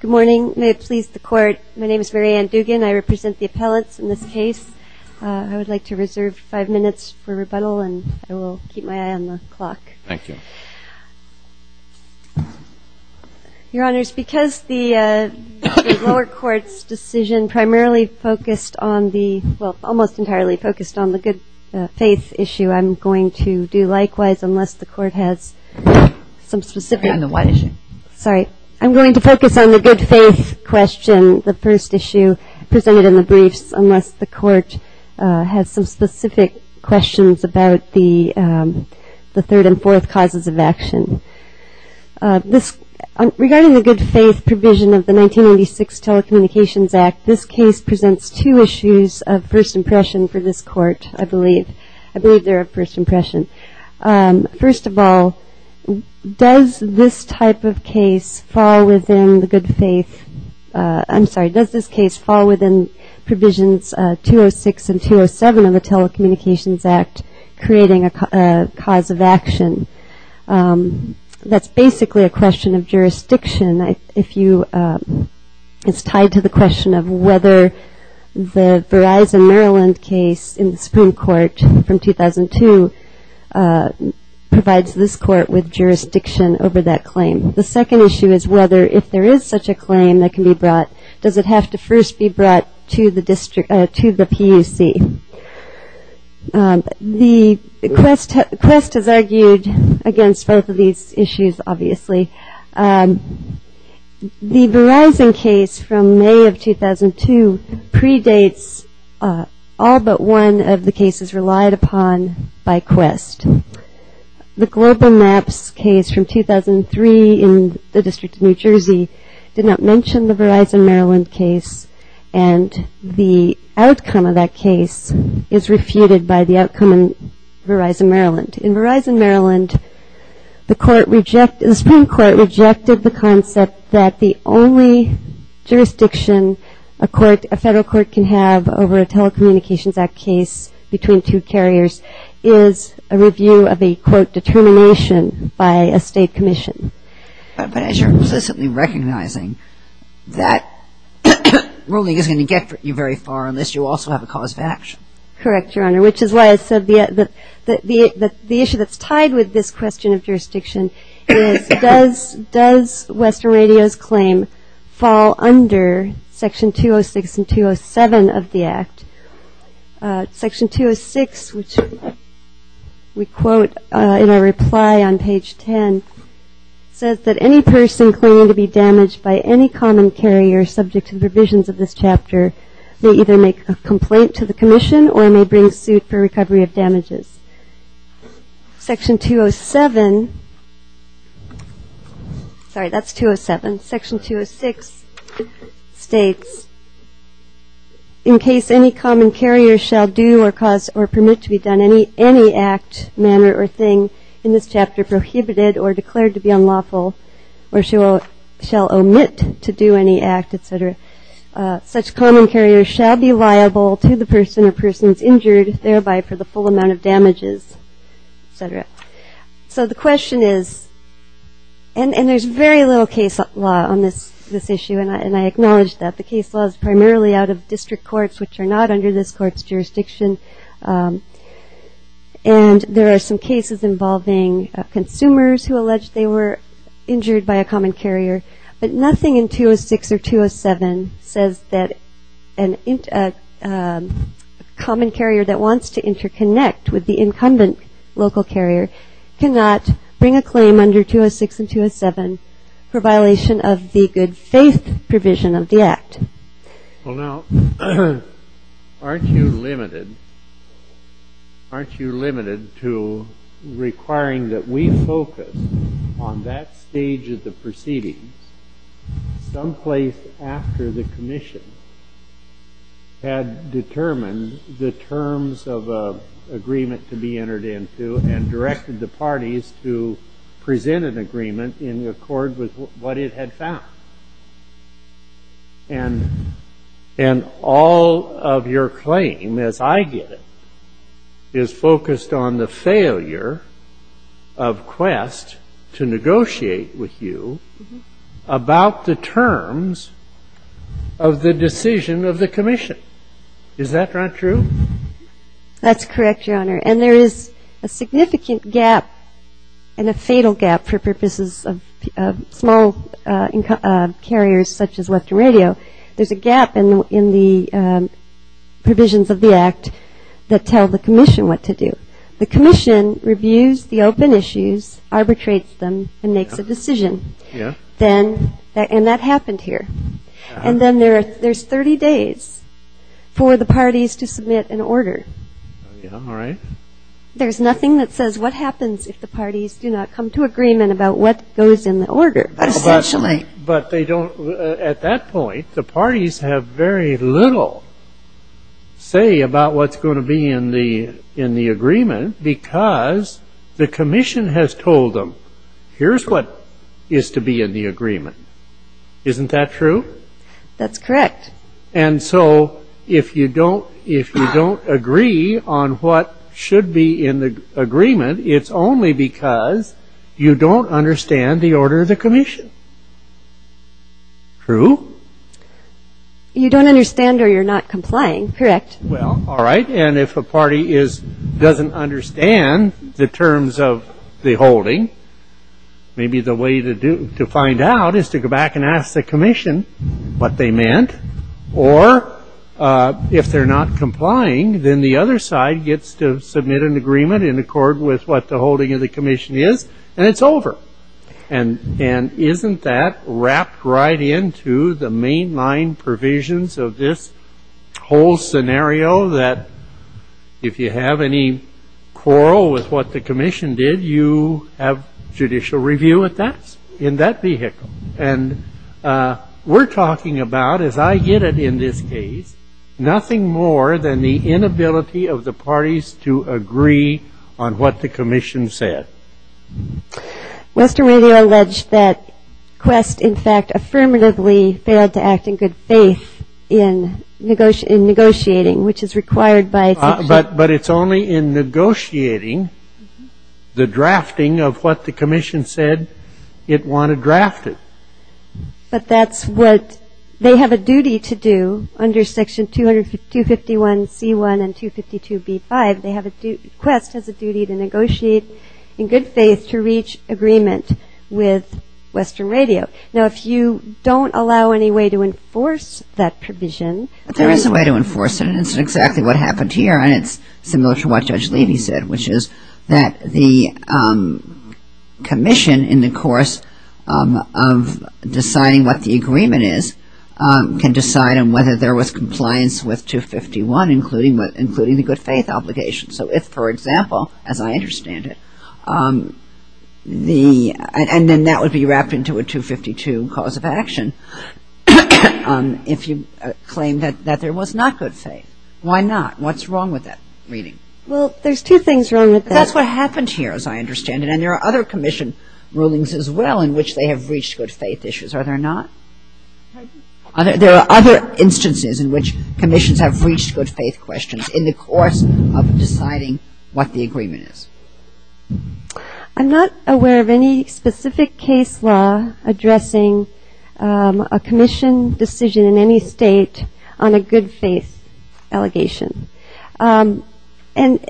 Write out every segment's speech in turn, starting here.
Good morning. May it please the Court, my name is Mary Ann Dugan. I represent the appellates in this case. I would like to reserve five minutes for rebuttal and I will keep my eye on the clock. Thank you. Your Honors, because the lower court's decision primarily focused on the, well, almost entirely focused on the good faith issue, I'm going to do likewise, unless the Court has some specific... On the what issue? Sorry, I'm going to focus on the good faith question, the first issue, presented in the briefs, unless the Court has some specific questions about the third and fourth causes of action. Regarding the good faith provision of the 1996 Telecommunications Act, this case presents two issues of first impression for this Court, I believe. I believe they're of first impression. First of all, does this type of case fall within the good faith... I'm sorry, does this case fall within provisions 206 and 207 of the Telecommunications Act, creating a cause of action? It's tied to the question of whether the Verizon Maryland case in the Supreme Court from 2002 provides this Court with jurisdiction over that claim. The second issue is whether, if there is such a claim that can be brought, does it have to first be brought to the PUC? The... Quest has argued against both of these issues, obviously. The Verizon case from May of 2002 predates all but one of the cases relied upon by Quest. The Global Maps case from 2003 in the District of New Jersey did not mention the Verizon Maryland case, and the outcome of that case is refuted by the outcome in Verizon Maryland. In Verizon Maryland, the Supreme Court rejected the concept that the only jurisdiction a federal court can have over a Telecommunications Act case between two carriers is a review of a court determination by a state commission. But as you're implicitly recognizing that ruling isn't going to get you very far on this, you also have a cause of action. Correct, Your Honor, which is why I said that the issue that's tied with this question of jurisdiction is does Western Radio's claim fall under Section 206 and 207 of the Act? Section 206, which we quote in a reply on page 10, says that any person claiming to be damaged by any common carrier subject to the provisions of this chapter may either make a complaint to the commission or may bring suit for recovery of damages. Section 207... Sorry, that's 207. Section 206 states, in case any common carrier shall do or cause or permit to be done any act, manner, or thing in this chapter prohibited or declared to be unlawful or shall omit to do any act, et cetera, such common carrier shall be liable to the person or persons injured, thereby for the full amount of damages, et cetera. So the question is, and there's very little case law on this issue, and I acknowledge that the case law is primarily out of district courts, which are not under this court's jurisdiction, and there are some cases involving consumers who allege they were injured by a common carrier, but nothing in 206 or 207 says that a common carrier that wants to interconnect with the incumbent local carrier cannot bring a claim under 206 and 207 for violation of the good faith provision of the act. Well, now, aren't you limited to requiring that we focus on that stage of the proceeding someplace after the commission had determined the terms of an agreement to be entered into and directed the parties to present an agreement in accord with what it had found? And all of your claim, as I get it, is focused on the failure of Quest to negotiate with you about the terms of the decision of the commission. Is that not true? That's correct, Your Honor, and there is a significant gap and a fatal gap for purposes of small carriers such as Western Radio. There's a gap in the provisions of the act that tell the commission what to do. The commission reviews the open issues, arbitrates them, and makes a decision, and that happened here. And then there's 30 days for the parties to submit an order. All right. There's nothing that says what happens if the parties do not come to agreement about what goes in the order. But at that point, the parties have very little say about what's going to be in the agreement because the commission has told them, here's what is to be in the agreement. Isn't that true? That's correct. And so if you don't agree on what should be in the agreement, it's only because you don't understand the order of the commission. True? You don't understand or you're not complying. Correct. Well, all right, and if a party doesn't understand the terms of the holding, maybe the way to find out is to go back and ask the commission what they meant. Or if they're not complying, then the other side gets to submit an agreement in accord with what the holding of the commission is, and it's over. And isn't that wrapped right into the mainline provisions of this whole scenario that if you have any quarrel with what the commission did, you have judicial review in that vehicle? And we're talking about, as I get it in this case, nothing more than the inability of the parties to agree on what the commission said. Western Radio alleged that Quest, in fact, affirmatively failed to act in good faith in negotiating, which is required by the commission. But it's only in negotiating the drafting of what the commission said it wanted drafted. But that's what they have a duty to do under Section 251C1 and 252B5. Quest has a duty to negotiate in good faith to reach agreement with Western Radio. Now, if you don't allow any way to enforce that provision... There is a way to enforce it, and it's exactly what happened here, and it's similar to what Judge Levy said, which is that the commission, in the course of deciding what the agreement is, can decide on whether there was compliance with 251, including the good faith obligation. So if, for example, as I understand it, and then that would be wrapped into a 252 cause of action, if you claim that there was not good faith. Why not? What's wrong with that reading? Well, there's two things wrong with that. That's what happened here, as I understand it. And there are other commission rulings as well in which they have reached good faith issues. Are there not? There are other instances in which commissions have reached good faith questions in the course of deciding what the agreement is. I'm not aware of any specific case law addressing a commission decision in any state on a good faith allegation. And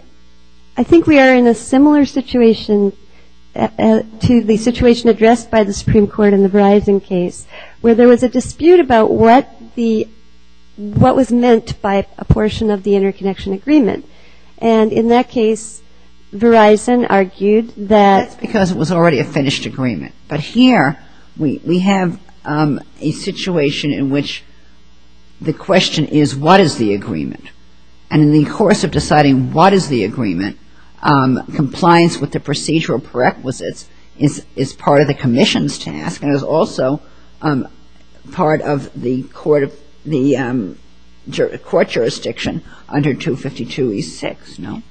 I think we are in a similar situation to the situation addressed by the Supreme Court in the Verizon case, where there was a dispute about what was meant by a portion of the interconnection agreement. And in that case, Verizon argued that... Because it was already a finished agreement. But here, we have a situation in which the question is, what is the agreement? And in the course of deciding what is the agreement, compliance with the procedural prerequisites is part of the commission's task and is also part of the court jurisdiction under 252E6. No?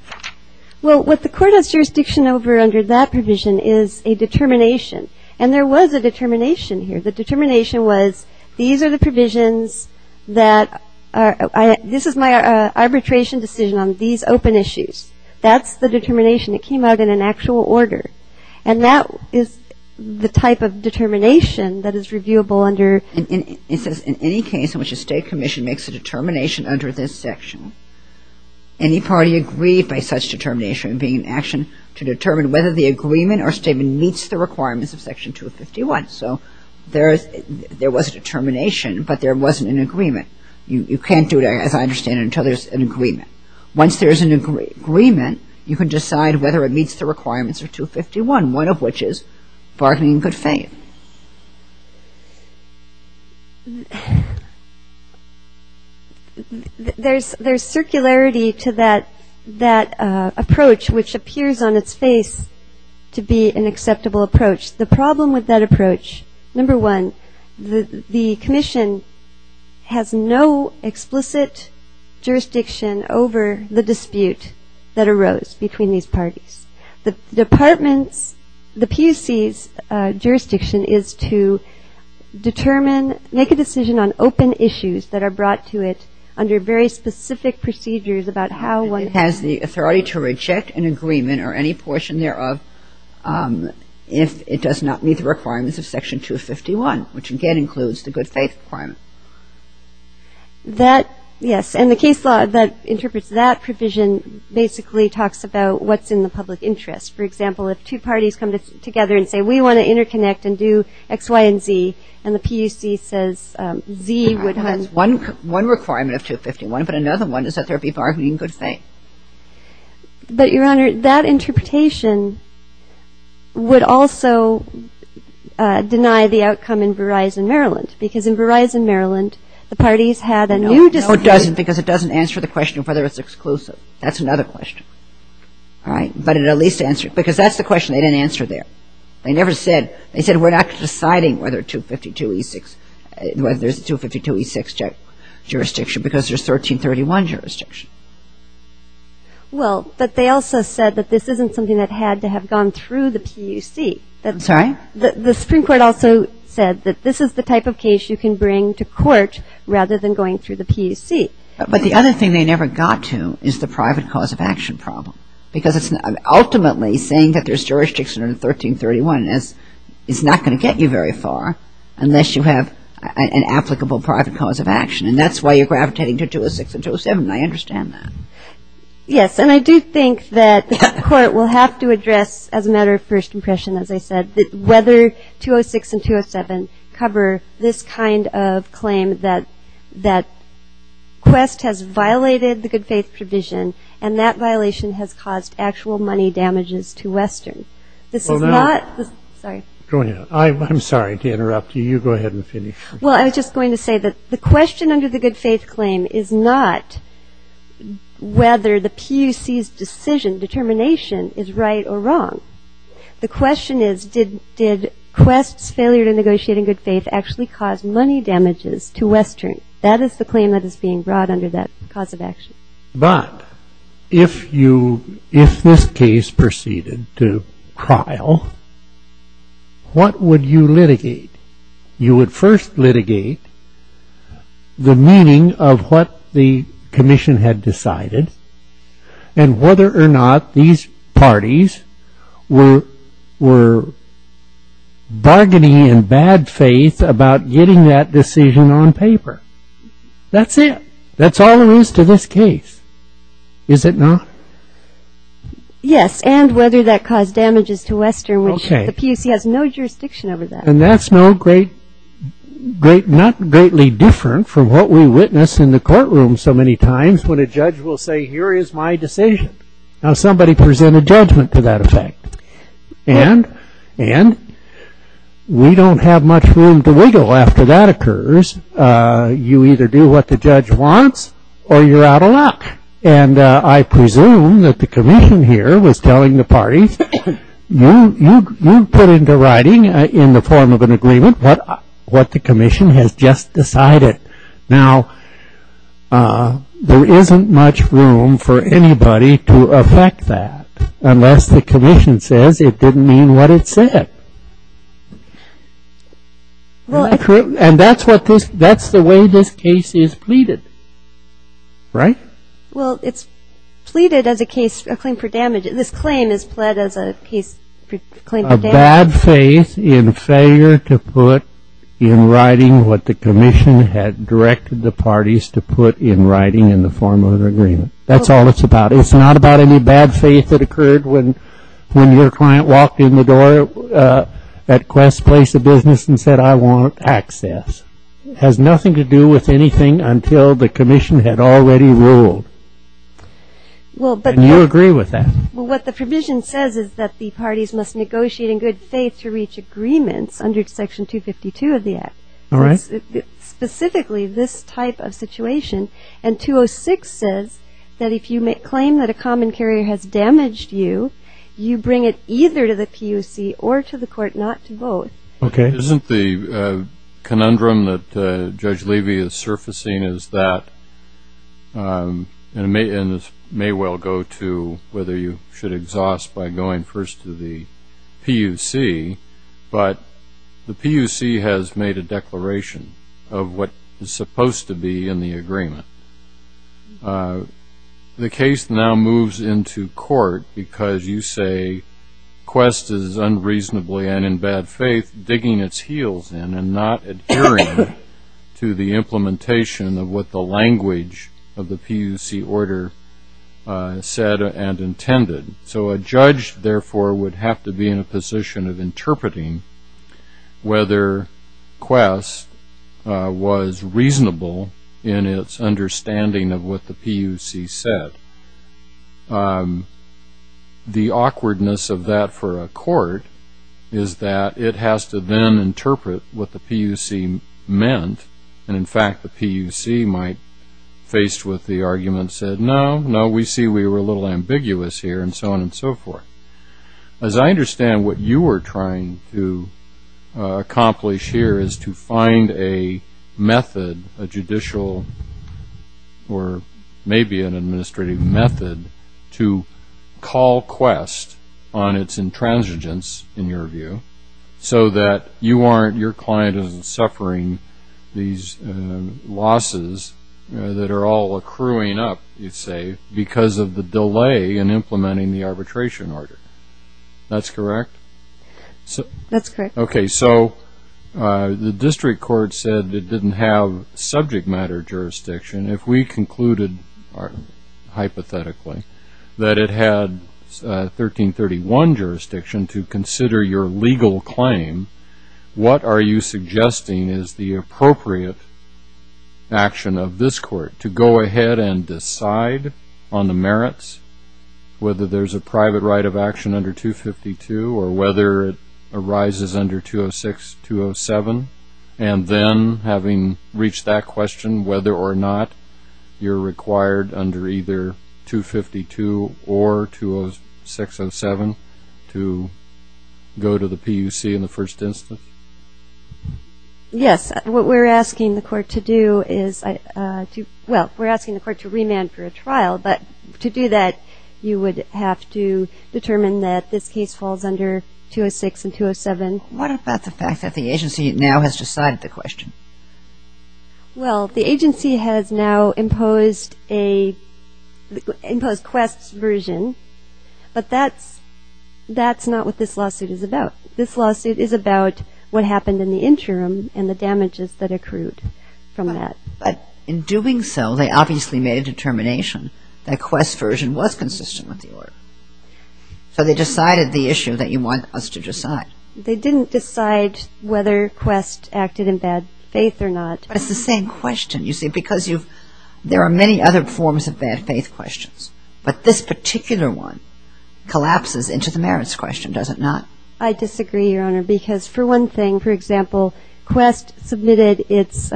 Well, what the court has jurisdiction over under that provision is a determination. And there was a determination here. The determination was, these are the provisions that... This is my arbitration decision on these open issues. That's the determination. It came out in an actual order. And that is the type of determination that is reviewable under... In any case in which a state commission makes a determination under this section, any party agreed by such determination being in action to determine whether the agreement or statement meets the requirements of Section 251. So, there was determination, but there wasn't an agreement. You can't do it, as I understand it, until there's an agreement. Once there's an agreement, you can decide whether it meets the requirements of 251, one of which is bargaining in good faith. There's circularity to that approach, which appears on its face to be an acceptable approach. The problem with that approach, number one, the commission has no explicit jurisdiction over the dispute that arose between these parties. The department, the PUC's jurisdiction is to determine, make a decision on open issues that are brought to it under very specific procedures about how one... Has the authority to reject an agreement or any portion thereof if it does not meet the requirements of Section 251, which again includes the good faith requirement. That, yes. And the case law that interprets that provision basically talks about what's in the public interest. For example, if two parties come together and say, we want to interconnect and do X, Y, and Z, and the PUC says Z would have... One requirement of 251, but another one is that there be bargaining in good faith. But, Your Honor, that interpretation would also deny the outcome in Verizon, Maryland, because in Verizon, Maryland, the parties had a new... No, it doesn't, because it doesn't answer the question of whether it's exclusive. That's another question, right? But it at least answers... Because that's the question they didn't answer there. They never said... They said, we're not deciding whether 252E6... Whether there's 252E6 jurisdiction because there's 1331 jurisdiction. Well, but they also said that this isn't something that had to have gone through the PUC. I'm sorry? The Supreme Court also said that this is the type of case you can bring to court rather than going through the PUC. But the other thing they never got to is the private cause of action problem, because ultimately saying that there's jurisdiction in 1331 is not going to get you very far unless you have an applicable private cause of action, and that's why you're gravitating to 206 and 207, and I understand that. Yes, and I do think that the court will have to address, as a matter of first impression, as I said, whether 206 and 207 cover this kind of claim that Quest has violated the good faith provision, and that violation has caused actual money damages to Western. This is not... Oh, no. Sorry. I'm sorry to interrupt you. You go ahead and finish. Well, I was just going to say that the question under the good faith claim is not whether the PUC's decision, determination, is right or wrong. The question is, did Quest's failure to negotiate in good faith actually cause money damages to Western? That is the claim that is being brought under that cause of action. But if this case proceeded to trial, what would you litigate? You would first litigate the meaning of what the commission had decided and whether or not these parties were bargaining in bad faith about getting that decision on paper. That's it. That's all there is to this case, is it not? Yes, and whether that caused damages to Western, which the PUC has no jurisdiction over that. And that's not greatly different from what we witness in the courtroom so many times when a judge will say, here is my decision. Now, somebody presented judgment to that effect. And we don't have much room to wiggle after that occurs. You either do what the judge wants or you're out of luck. And I presume that the commission here was telling the parties, you put into writing in the form of an agreement what the commission has just decided. Now, there isn't much room for anybody to affect that unless the commission says it didn't mean what it said. And that's the way this case is pleaded, right? Well, it's pleaded as a case for damages. This claim is pleaded as a case for claims of damages. A bad faith in failure to put in writing what the commission had directed the parties to put in writing in the form of an agreement. That's all it's about. It's not about any bad faith that occurred when your client walked in the door at Quest Place of Business and said, I want access. It has nothing to do with anything until the commission had already ruled. Do you agree with that? Well, what the provision says is that the parties must negotiate in good faith to reach agreement under section 252 of the act. Specifically, this type of situation. And 206 says that if you claim that a commentator has damaged you, you bring it either to the QC or to the court not to vote. Okay. Isn't the conundrum that Judge Levy is surfacing is that, and this may well go to whether you should exhaust by going first to the PUC, but the PUC has made a declaration of what is supposed to be in the agreement. The case now moves into court because you say Quest is unreasonably and in bad faith digging its heels in and not adhering to the implementation of what the language of the PUC order said and intended. So a judge, therefore, would have to be in a position of interpreting whether Quest was reasonable in its understanding of what the PUC said. The awkwardness of that for a court is that it has to then interpret what the PUC meant. And, in fact, the PUC might, faced with the argument, said, no, no, we see we were a little ambiguous here, and so on and so forth. As I understand what you were trying to accomplish here is to find a method, a judicial or maybe an administrative method, to call Quest on its intransigence, in your view, so that your client isn't suffering these losses that are all accruing up, you'd say, because of the delay in implementing the arbitration order. That's correct? That's correct. Okay, so the district court said it didn't have subject matter jurisdiction. If we concluded, hypothetically, that it had 1331 jurisdiction to consider your legal claim, what are you suggesting is the appropriate action of this court to go ahead and decide on the merits, whether there's a private right of action under 252 or whether it arises under 206, 207, and then, having reached that question, whether or not you're required under either 252 or 206, 207, to go to the PUC in the first instance? Yes, what we're asking the court to do is, well, we're asking the court to remand for a trial, but to do that you would have to determine that this case falls under 206 and 207. What about the fact that the agency now has decided the question? Well, the agency has now imposed Quest's version, but that's not what this lawsuit is about. This lawsuit is about what happened in the interim and the damages that accrued from that. But in doing so, they obviously made a determination that Quest's version was consistent with the order. So they decided the issue that you want us to decide. They didn't decide whether Quest acted in bad faith or not. It's the same question, you see, because there are many other forms of bad faith questions, but this particular one collapses into the merits question, does it not? I disagree, Your Honor, because for one thing, for example, Quest submitted its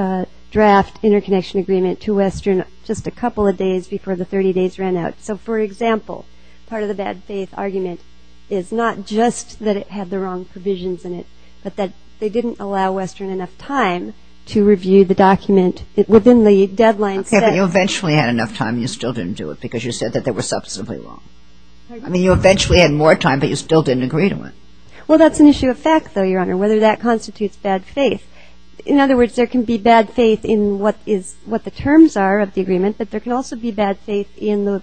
draft interconnection agreement to Western just a couple of days before the 30 days ran out. So, for example, part of the bad faith argument is not just that it had the wrong provisions in it, but that they didn't allow Western enough time to review the document within the deadline. If you eventually had enough time, you still didn't do it because you said that they were substantively wrong. I mean, you eventually had more time, but you still didn't agree to it. Well, that's an issue of fact, though, Your Honor, whether that constitutes bad faith. In other words, there can be bad faith in what the terms are of the agreement, but there can also be bad faith in the...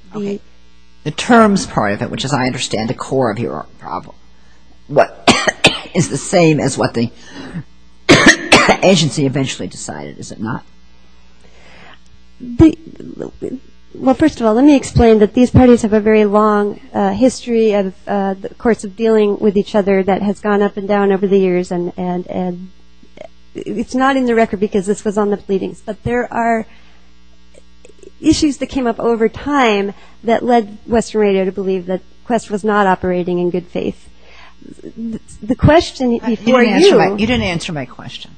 The terms part of it, which is, I understand, the core of your problem, what is the same as what the agency eventually decided, is it not? Well, first of all, let me explain that these parties have a very long history, of course, of dealing with each other that has gone up and down over the years, and it's not in the record because this was on the pleading, but there are issues that came up over time that led Western Radio to believe that the question was not operating in good faith. The question is for you... You didn't answer my question,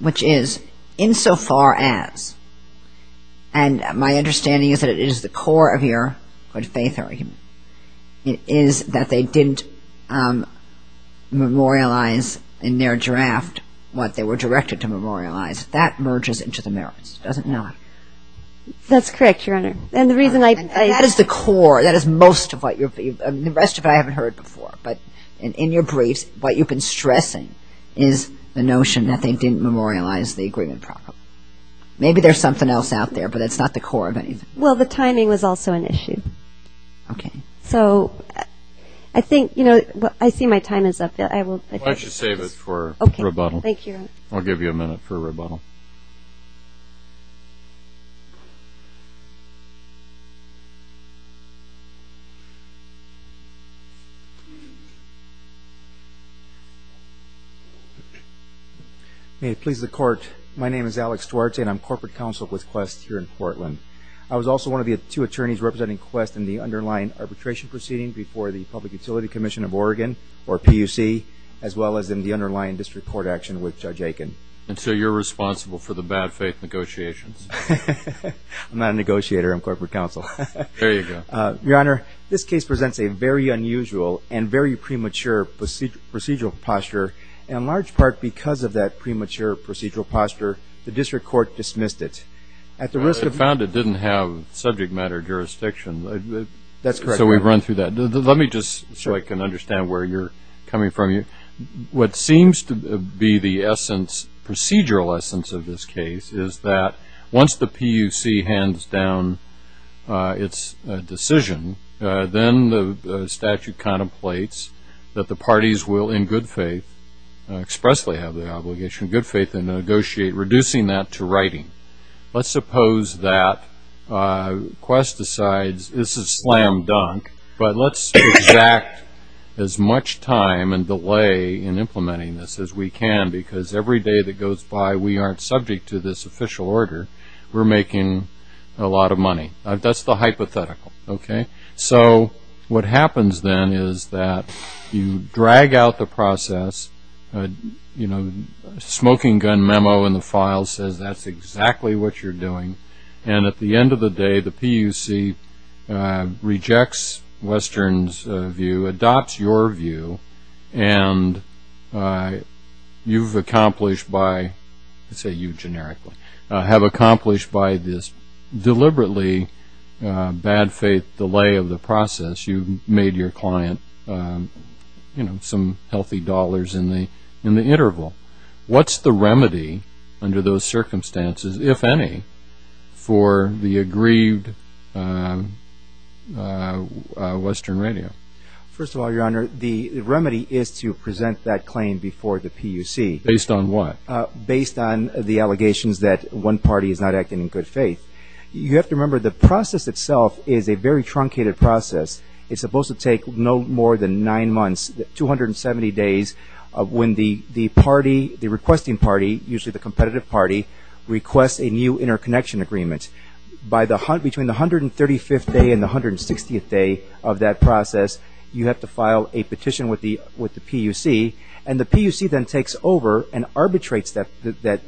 which is, insofar as, and my understanding is that it is the core of your good faith argument, is that they didn't memorialize in their draft what they were directed to memorialize. That merges into the merits, does it not? That's correct, Your Honor. That is the core, that is most of what your... The rest of it I haven't heard before, but in your brief, what you've been stressing is the notion that they didn't memorialize the agreement properly. Maybe there's something else out there, but it's not the core of anything. Well, the timing was also an issue. Okay. So, I think, you know, I see my time is up. Why don't you save it for rebuttal. Okay, thank you. We'll give you a minute for rebuttal. Please. May it please the Court, my name is Alex Duarte, and I'm Corporate Counsel with Quest here in Portland. I was also one of the two attorneys representing Quest in the underlying arbitration proceedings before the Public Utility Commission of Oregon, or PUC, as well as in the underlying district court action with Judge Aiken. And so you're responsible for the bad faith negotiations? I'm not a negotiator, I'm Corporate Counsel. There you go. Your Honor, this case presents a very unusual and very premature procedural posture, and in large part because of that premature procedural posture, the district court dismissed it. I found it didn't have subject matter jurisdiction. That's correct. So we've run through that. Let me just, so I can understand where you're coming from here. What seems to be the essence, procedural essence of this case, is that once the PUC hands down its decision, then the statute contemplates that the parties will in good faith, expressly have the obligation, in good faith to negotiate, reducing that to writing. Let's suppose that Quest decides this is slam dunk, but let's exact as much time and delay in implementing this as we can, because every day that goes by we aren't subject to this official order. We're making a lot of money. That's the hypothetical, okay? So what happens then is that you drag out the process, you know, smoking gun memo in the file says that's exactly what you're doing, and at the end of the day the PUC rejects Western's view, adopts your view, and you've accomplished by, let's say you generically, have accomplished by this deliberately bad faith delay of the process. You've made your client, you know, some healthy dollars in the interval. What's the remedy under those circumstances, if any, for the aggrieved Western radio? First of all, Your Honor, the remedy is to present that claim before the PUC. Based on what? Based on the allegations that one party is not acting in good faith. You have to remember the process itself is a very truncated process. It's supposed to take no more than nine months, 270 days, when the party, the requesting party, usually the competitive party, requests a new interconnection agreement. Between the 135th day and the 160th day of that process, you have to file a petition with the PUC, and the PUC then takes over and arbitrates the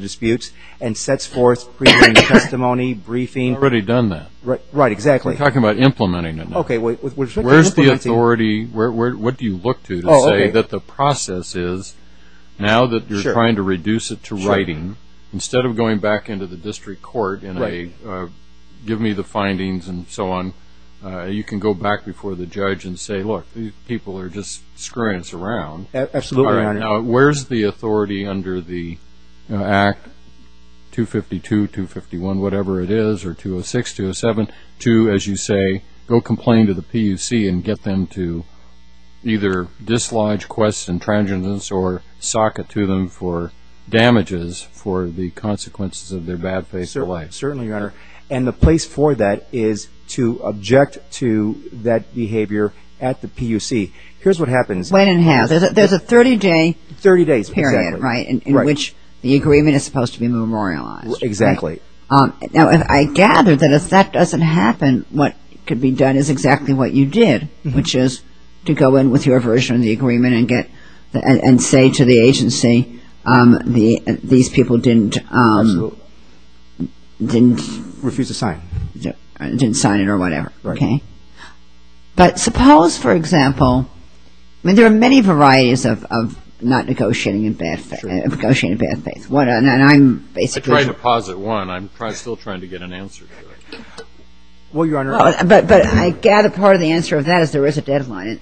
disputes and sets forth preliminary testimony, briefing. Already done that. Right, exactly. We're talking about implementing it now. Okay. Where's the authority? What do you look to to say that the process is, now that you're trying to reduce it to writing, instead of going back into the district court and giving me the findings and so on, you can go back before the judge and say, look, these people are just screwing us around. Absolutely, Your Honor. Where's the authority under the Act 252, 251, whatever it is, or 206, 207, to, as you say, go complain to the PUC and get them to either dislodge, quest, intransigence, or socket to them for damages for the consequences of their bad faith for life? Certainly, Your Honor. And the place for that is to object to that behavior at the PUC. Here's what happens. Wait a minute. There's a 30-day period in which the agreement is supposed to be memorialized. Exactly. Now, I gather that if that doesn't happen, what could be done is exactly what you did, which is to go in with your version of the agreement and say to the agency, these people didn't sign it or whatever. Right. But suppose, for example, there are many varieties of not negotiating in bad faith. I tried to pause at one. I'm still trying to get an answer to it. Well, Your Honor. But I gather part of the answer to that is there is a deadline.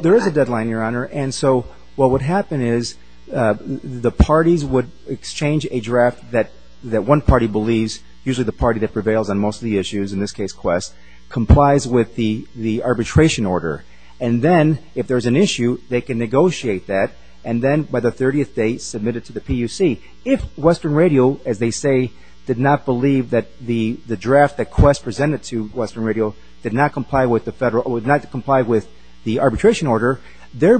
There is a deadline, Your Honor. And so what would happen is the parties would exchange a draft that one party believes, usually the party that prevails on most of the issues, in this case, quest, complies with the arbitration order. And then if there's an issue, they can negotiate that. And then by the 30th day, submit it to the PUC. If Western Radio, as they say, did not believe that the draft that quest presented to Western Radio did not comply with the arbitration order, their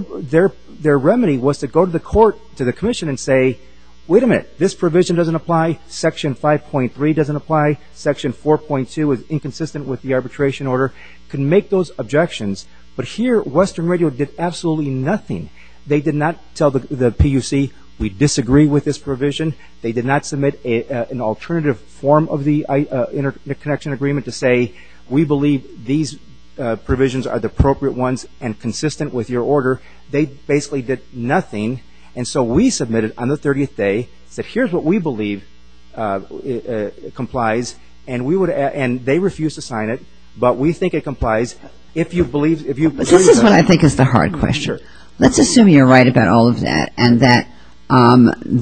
remedy was to go to the court, to the commission, and say, wait a minute. This provision doesn't apply. Section 5.3 doesn't apply. Section 4.2 is inconsistent with the arbitration order. You can make those objections. But here, Western Radio did absolutely nothing. They did not tell the PUC, we disagree with this provision. They did not submit an alternative form of the interconnection agreement to say, we believe these provisions are the appropriate ones and consistent with your order. They basically did nothing. And so we submitted on the 30th day that here's what we believe complies, and they refused to sign it, but we think it complies. This is what I think is the hard question. Let's assume you're right about all of that and that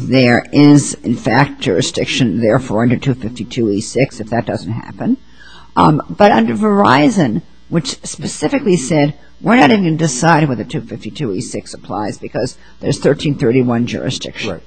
there is, in fact, jurisdiction there for under 252E6 if that doesn't happen. But under Verizon, which specifically said we're not even going to decide whether 252E6 applies because there's 1331 jurisdiction.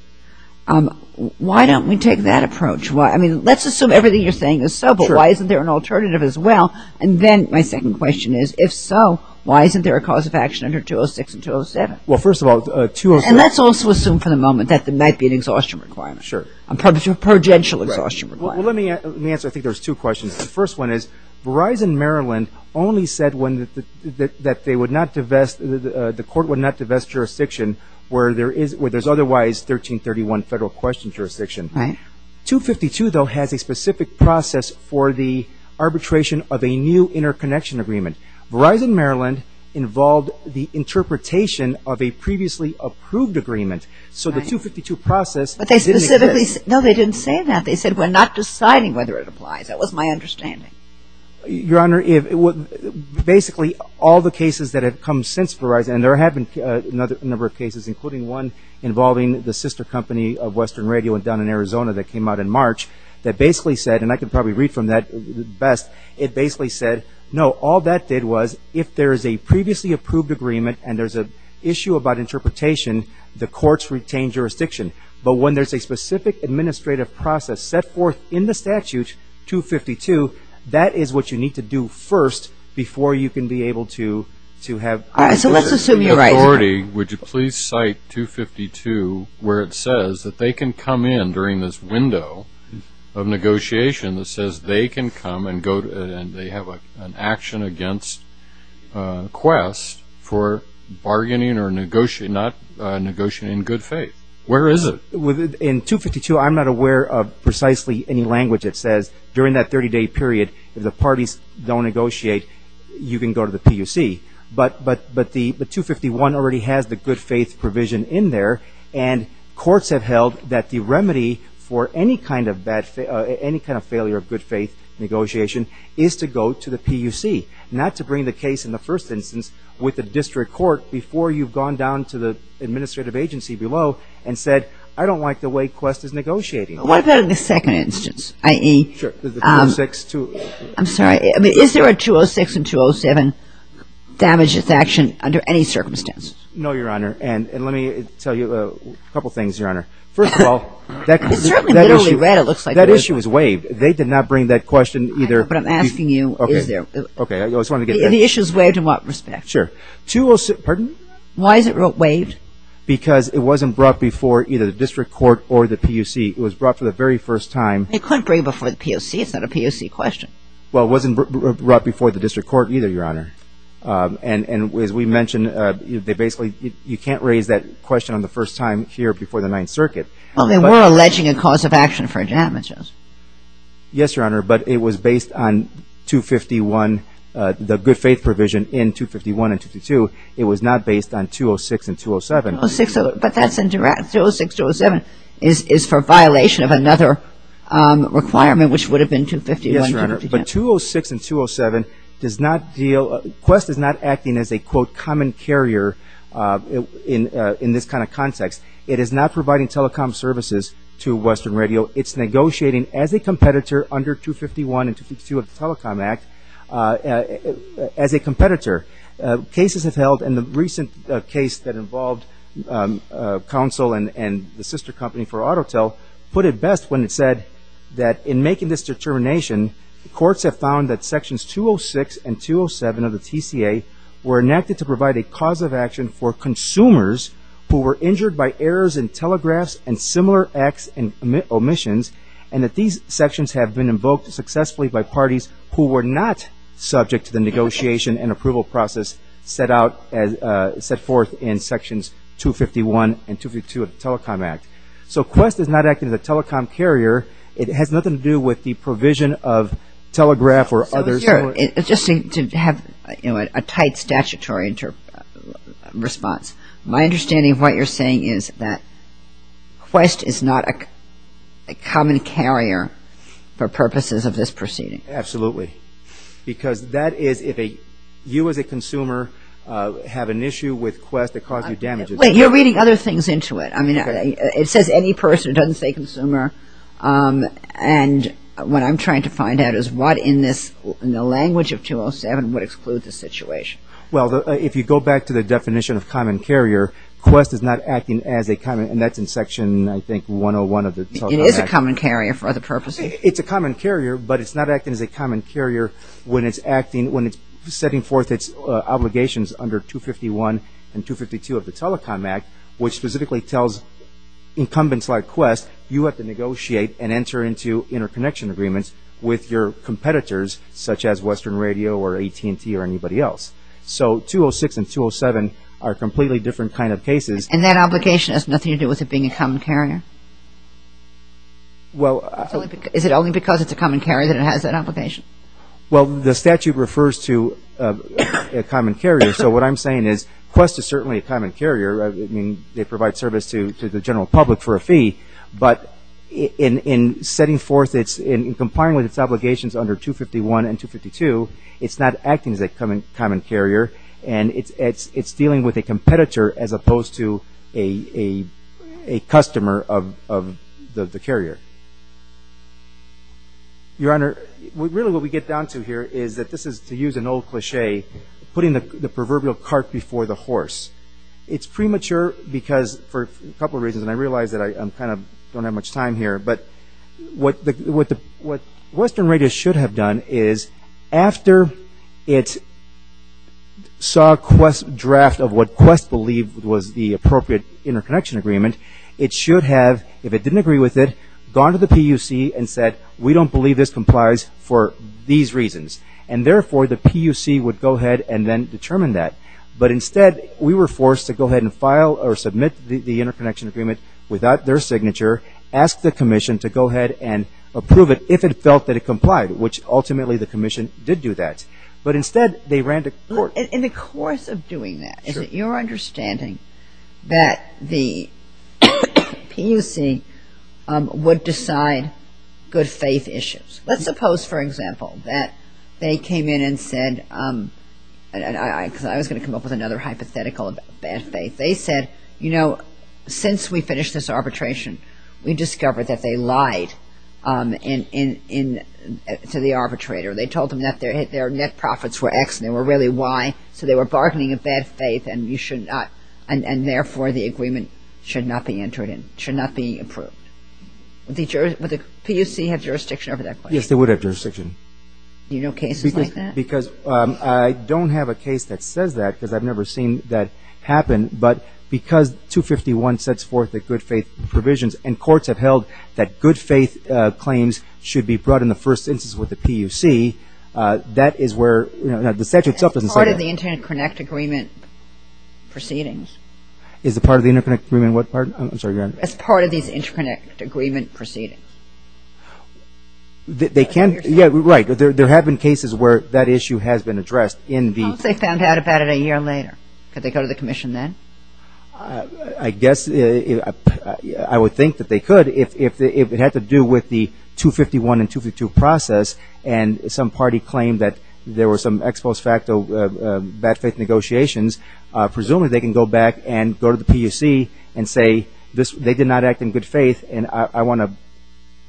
Why don't we take that approach? Let's assume everything you're saying is so, but why isn't there an alternative as well? And then my second question is, if so, why isn't there a cause of action under 206 and 207? Well, first of all, 206- And let's also assume for the moment that that might be an exhaustion requirement. Sure. A prudential exhaustion requirement. Well, let me answer, I think there's two questions. The first one is Verizon Maryland only said that they would not divest, the court would not divest jurisdiction where there's otherwise 1331 federal question jurisdiction. 252, though, has a specific process for the arbitration of a new interconnection agreement. Verizon Maryland involved the interpretation of a previously approved agreement, so the 252 process- But they specifically said- No, they didn't say that. They said we're not deciding whether it applies. That was my understanding. Your Honor, basically all the cases that have come since Verizon, and there have been a number of cases, including one involving the sister company of Western Radio down in Arizona that came out in March, that basically said, and I can probably read from that best, it basically said, no, all that did was if there is a previously approved agreement and there's an issue about interpretation, the courts retain jurisdiction. But when there's a specific administrative process set forth in the statute, 252, that is what you need to do first before you can be able to have- All right, so let's assume you're right. Your Honor, would you please cite 252 where it says that they can come in during this window of negotiation that says they can come and they have an action against Quest for bargaining or not negotiating in good faith. Where is it? In 252, I'm not aware of precisely any language that says during that 30-day period, if the parties don't negotiate, you can go to the PUC. But the 251 already has the good faith provision in there and courts have held that the remedy for any kind of failure of good faith negotiation is to go to the PUC, not to bring the case in the first instance with the district court before you've gone down to the administrative agency below and said, I don't like the way Quest is negotiating. What about in the second instance, i.e. I'm sorry, is there a 206 and 207 damages action under any circumstance? No, Your Honor, and let me tell you a couple things, Your Honor. First of all, that issue was waived. They did not bring that question either- But I'm asking you, is there? Okay, I just wanted to get that. And the issue is waived in what respect? Sure. 206, pardon me? Why is it waived? Because it wasn't brought before either the district court or the PUC. It was brought for the very first time- You couldn't bring it before the PUC. It's not a PUC question. Well, it wasn't brought before the district court either, Your Honor. And as we mentioned, you can't raise that question on the first time here before the Ninth Circuit. Well, they were alleging a cause of action for damages. Yes, Your Honor, but it was based on 251, the good faith provision in 251 and 252. It was not based on 206 and 207. But that's indirect. 206, 207 is for violation of another requirement, which would have been 251 and 252. Yes, Your Honor, but 206 and 207 does not deal- Quest is not acting as a, quote, common carrier in this kind of context. It is not providing telecom services to Western Radio. It's negotiating as a competitor under 251 and 252 of the Telecom Act as a competitor. Cases have held, and the recent case that involved Council and the sister company for Autotel put it best when it said that, in making this determination, courts have found that Sections 206 and 207 of the TCA were enacted to provide a cause of action for consumers who were injured by errors in telegraphs and similar acts and omissions, and that these sections have been invoked successfully by parties who were not subject to the negotiation and approval process set forth in Sections 251 and 252 of the Telecom Act. So Quest is not acting as a telecom carrier. It has nothing to do with the provision of telegraph or others- Your Honor, it just seems to have a tight statutory response. My understanding of what you're saying is that Quest is not a common carrier for purposes of this proceeding. Absolutely. Because that is, if you as a consumer have an issue with Quest that caused you damage- Wait, you're reading other things into it. I mean, it says any person. It doesn't say consumer. And what I'm trying to find out is what in the language of 207 would exclude the situation. Well, if you go back to the definition of common carrier, Quest is not acting as a common- and that's in Section, I think, 101 of the Telecom Act. It is a common carrier for other purposes. It's a common carrier, but it's not acting as a common carrier when it's acting- when it's setting forth its obligations under 251 and 252 of the Telecom Act, which specifically tells incumbents like Quest, you have to negotiate and enter into interconnection agreements with your competitors, such as Western Radio or AT&T or anybody else. So 206 and 207 are completely different kind of cases. And that obligation has nothing to do with it being a common carrier? Well- Is it only because it's a common carrier that it has that obligation? Well, the statute refers to a common carrier. So what I'm saying is Quest is certainly a common carrier. I mean, they provide service to the general public for a fee. But in setting forth its-in complying with its obligations under 251 and 252, it's not acting as a common carrier, and it's dealing with a competitor as opposed to a customer of the carrier. Your Honor, really what we get down to here is that this is, to use an old cliche, putting the proverbial cart before the horse. It's premature because, for a couple of reasons, and I realize that I kind of don't have much time here, but what Western Radio should have done is, after it saw a draft of what Quest believed was the appropriate interconnection agreement, it should have, if it didn't agree with it, gone to the PUC and said, we don't believe this complies for these reasons. And therefore, the PUC would go ahead and then determine that. But instead, we were forced to go ahead and file or submit the interconnection agreement without their signature, ask the commission to go ahead and approve it if it felt that it complied, which ultimately the commission did do that. But instead, they ran to court. In the course of doing that, is it your understanding that the PUC would decide good faith issues? Let's suppose, for example, that they came in and said, because I was going to come up with another hypothetical about bad faith. They said, you know, since we finished this arbitration, we discovered that they lied to the arbitrator. They told him that their net profits were X and they were really Y, so they were bargaining a bad faith and therefore the agreement should not be entered in, should not be approved. Would the PUC have jurisdiction over that question? Yes, they would have jurisdiction. Do you know cases like that? Because I don't have a case that says that because I've never seen that happen. But because 251 sets forth the good faith provisions and courts have held that good faith claims should be brought in the first instance with the PUC, that is where the statute itself doesn't say that. As part of the interconnect agreement proceedings. I'm sorry, go ahead. As part of the interconnect agreement proceedings. They can, yeah, right. There have been cases where that issue has been addressed in the- What if they found out about it a year later? Could they go to the commission then? I guess I would think that they could. If it had to do with the 251 and 252 process and some party claimed that there were some ex post facto bad faith negotiations, presumably they can go back and go to the PUC and say they did not act in good faith and I want to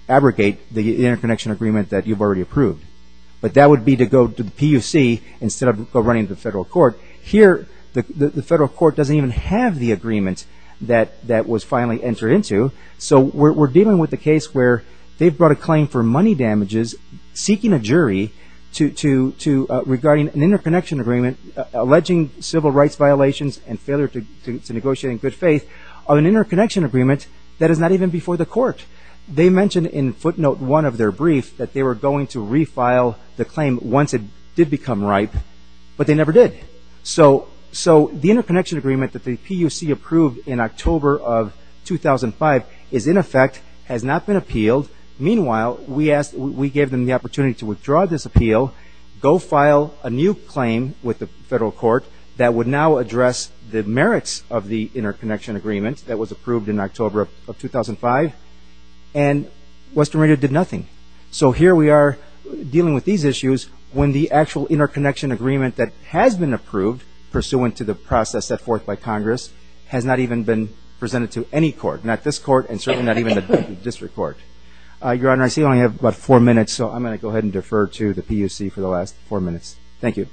abrogate the interconnection agreement that you've already approved. But that would be to go to the PUC instead of running to the federal court. Here, the federal court doesn't even have the agreement that was finally entered into. So we're dealing with a case where they've brought a claim for money damages, seeking a jury regarding an interconnection agreement alleging civil rights violations and failure to negotiate in good faith of an interconnection agreement that is not even before the court. They mentioned in footnote one of their brief that they were going to refile the claim once it did become ripe, but they never did. So the interconnection agreement that the PUC approved in October of 2005 is in effect, has not been appealed. Meanwhile, we gave them the opportunity to withdraw this appeal, go file a new claim with the federal court that would now address the merits of the interconnection agreement that was approved in October of 2005. And Western Reader did nothing. So here we are dealing with these issues when the actual interconnection agreement that has been approved pursuant to the process set forth by Congress has not even been presented to any court. Not this court, and certainly not even the district court. Your Honor, I see we only have about four minutes, so I'm going to go ahead and defer to the PUC for the last four minutes. Thank you.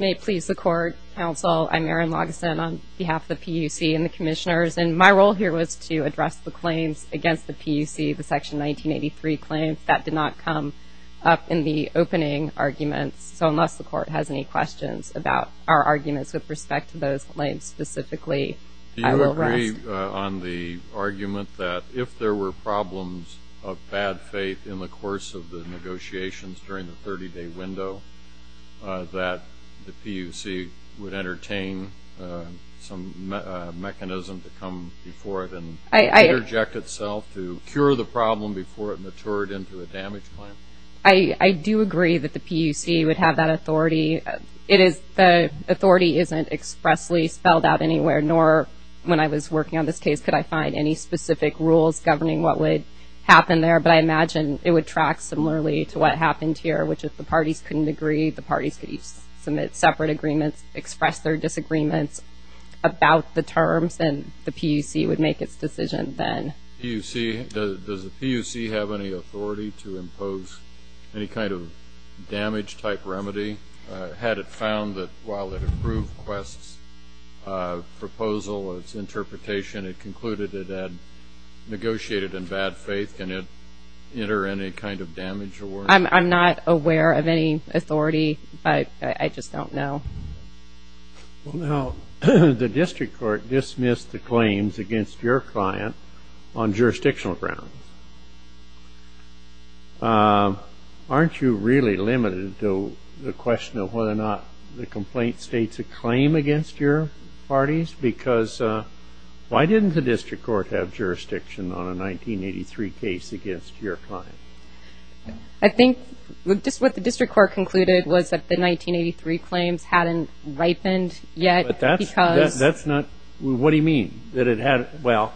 May it please the court, counsel, I'm Erin Logson on behalf of the PUC and the commissioners. And my role here was to address the claims against the PUC, the Section 1983 claims. That did not come up in the opening argument. So unless the court has any questions about our arguments with respect to those claims specifically, I will rest. Do you agree on the argument that if there were problems of bad faith in the course of the negotiations during the 30-day window, that the PUC would entertain some mechanism to come before it and interject itself to cure the problem before it matured into a damage claim? I do agree that the PUC would have that authority. The authority isn't expressly spelled out anywhere, nor when I was working on this case could I find any specific rules governing what would happen there. But I imagine it would track similarly to what happened here, which is the parties couldn't agree. The parties could submit separate agreements, express their disagreements about the terms, and the PUC would make its decision then. Does the PUC have any authority to impose any kind of damage-type remedy? Had it found that while it approved Quest's proposal, its interpretation, it concluded it had negotiated in bad faith, can it enter any kind of damage award? I'm not aware of any authority, but I just don't know. The district court dismissed the claims against your client on jurisdictional grounds. Aren't you really limited to the question of whether or not the complaint states a claim against your parties? Why didn't the district court have jurisdiction on a 1983 case against your client? I think what the district court concluded was that the 1983 claim hadn't ripened yet. What do you mean? Well,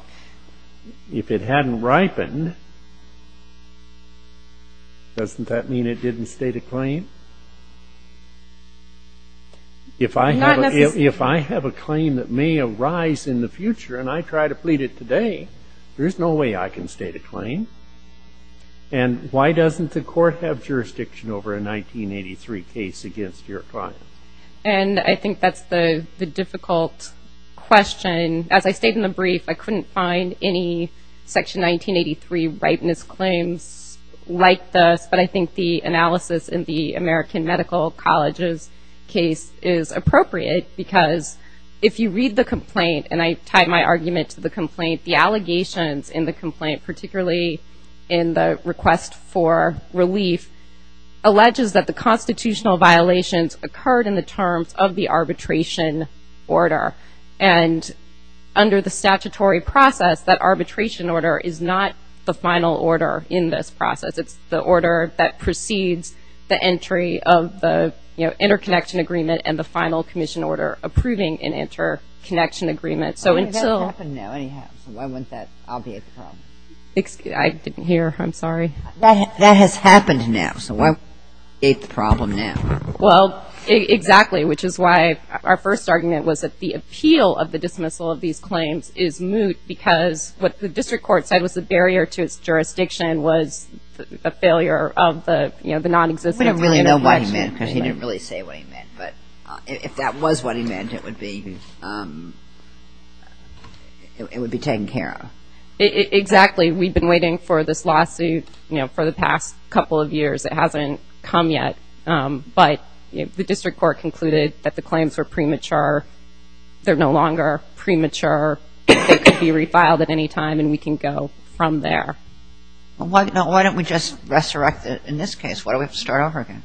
if it hadn't ripened, doesn't that mean it didn't state a claim? If I have a claim that may arise in the future and I try to plead it today, there's no way I can state a claim. And why doesn't the court have jurisdiction over a 1983 case against your client? And I think that's the difficult question. As I stated in the brief, I couldn't find any Section 1983 ripeness claims like this, but I think the analysis in the American Medical College's case is appropriate because if you read the complaint, and I tie my argument to the complaint, the allegations in the complaint, particularly in the request for relief, alleges that the constitutional violations occurred in the terms of the arbitration order. And under the statutory process, that arbitration order is not the final order in this process. It's the order that precedes the entry of the interconnection agreement and the final commission order approving an interconnection agreement. That has happened now. Why was that an obvious problem? I didn't hear. I'm sorry. That has happened now, so why is it a problem now? Well, exactly, which is why our first argument was that the appeal of the dismissal of these claims is moot because what the district court said was the barrier to jurisdiction was a failure of the non-existent. We don't really know what he meant because he didn't really say what he meant, but if that was what he meant, it would be taken care of. Exactly. We've been waiting for this lawsuit for the past couple of years. It hasn't come yet, but the district court concluded that the claims were premature. They're no longer premature. They can be refiled at any time, and we can go from there. Why don't we just resurrect it in this case? Why don't we start over again?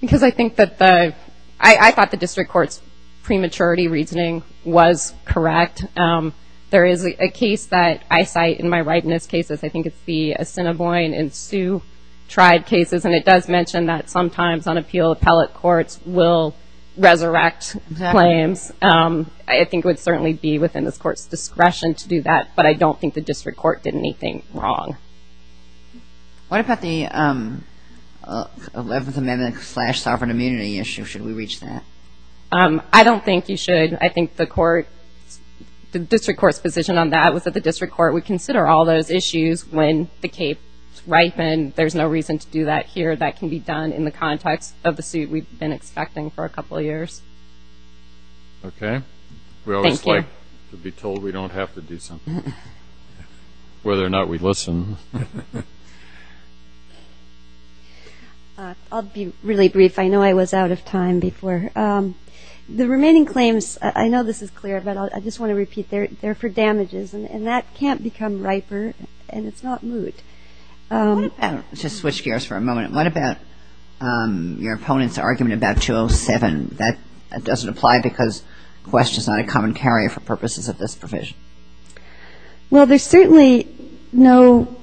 Because I think that the ‑‑ I thought the district court's prematurity reasoning was correct. There is a case that I cite in my right in this case. I think it's the Assiniboine and Sioux tribe cases, and it does mention that sometimes unappealed appellate courts will resurrect claims. I think it would certainly be within this court's discretion to do that, but I don't think the district court did anything wrong. What about the 11th Amendment slash sovereign immunity issue? Should we reach that? I don't think you should. I think the court ‑‑ the district court's decision on that was that the district court would consider all those issues when the case ripened. There's no reason to do that here. That can be done in the context of the suit we've been expecting for a couple of years. Okay. Thank you. We always like to be told we don't have to do something, whether or not we listen. I'll be really brief. I know I was out of time before. The remaining claims, I know this is clear, but I just want to repeat, they're for damages, and that can't become riper, and it's not moot. I want to switch gears for a moment. What about your opponent's argument about 207? That doesn't apply because the question is not a commentary for purposes of this provision. Well, there's certainly no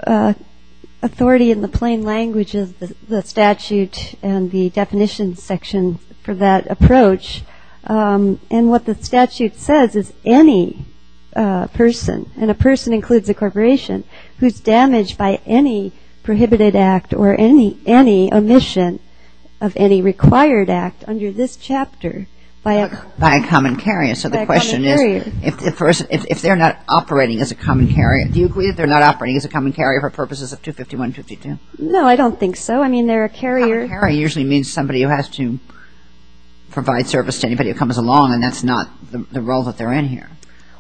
authority in the plain language of the statute and the definition section for that approach. And what the statute says is any person, and a person includes a corporation, who's damaged by any prohibited act or any omission of any required act under this chapter by a common carrier. So the question is, if they're not operating as a common carrier, do you agree that they're not operating as a common carrier for purposes of 251, 252? No, I don't think so. I mean, they're a carrier. A carrier usually means somebody who has to provide service to anybody who comes along, and that's not the role that they're in here.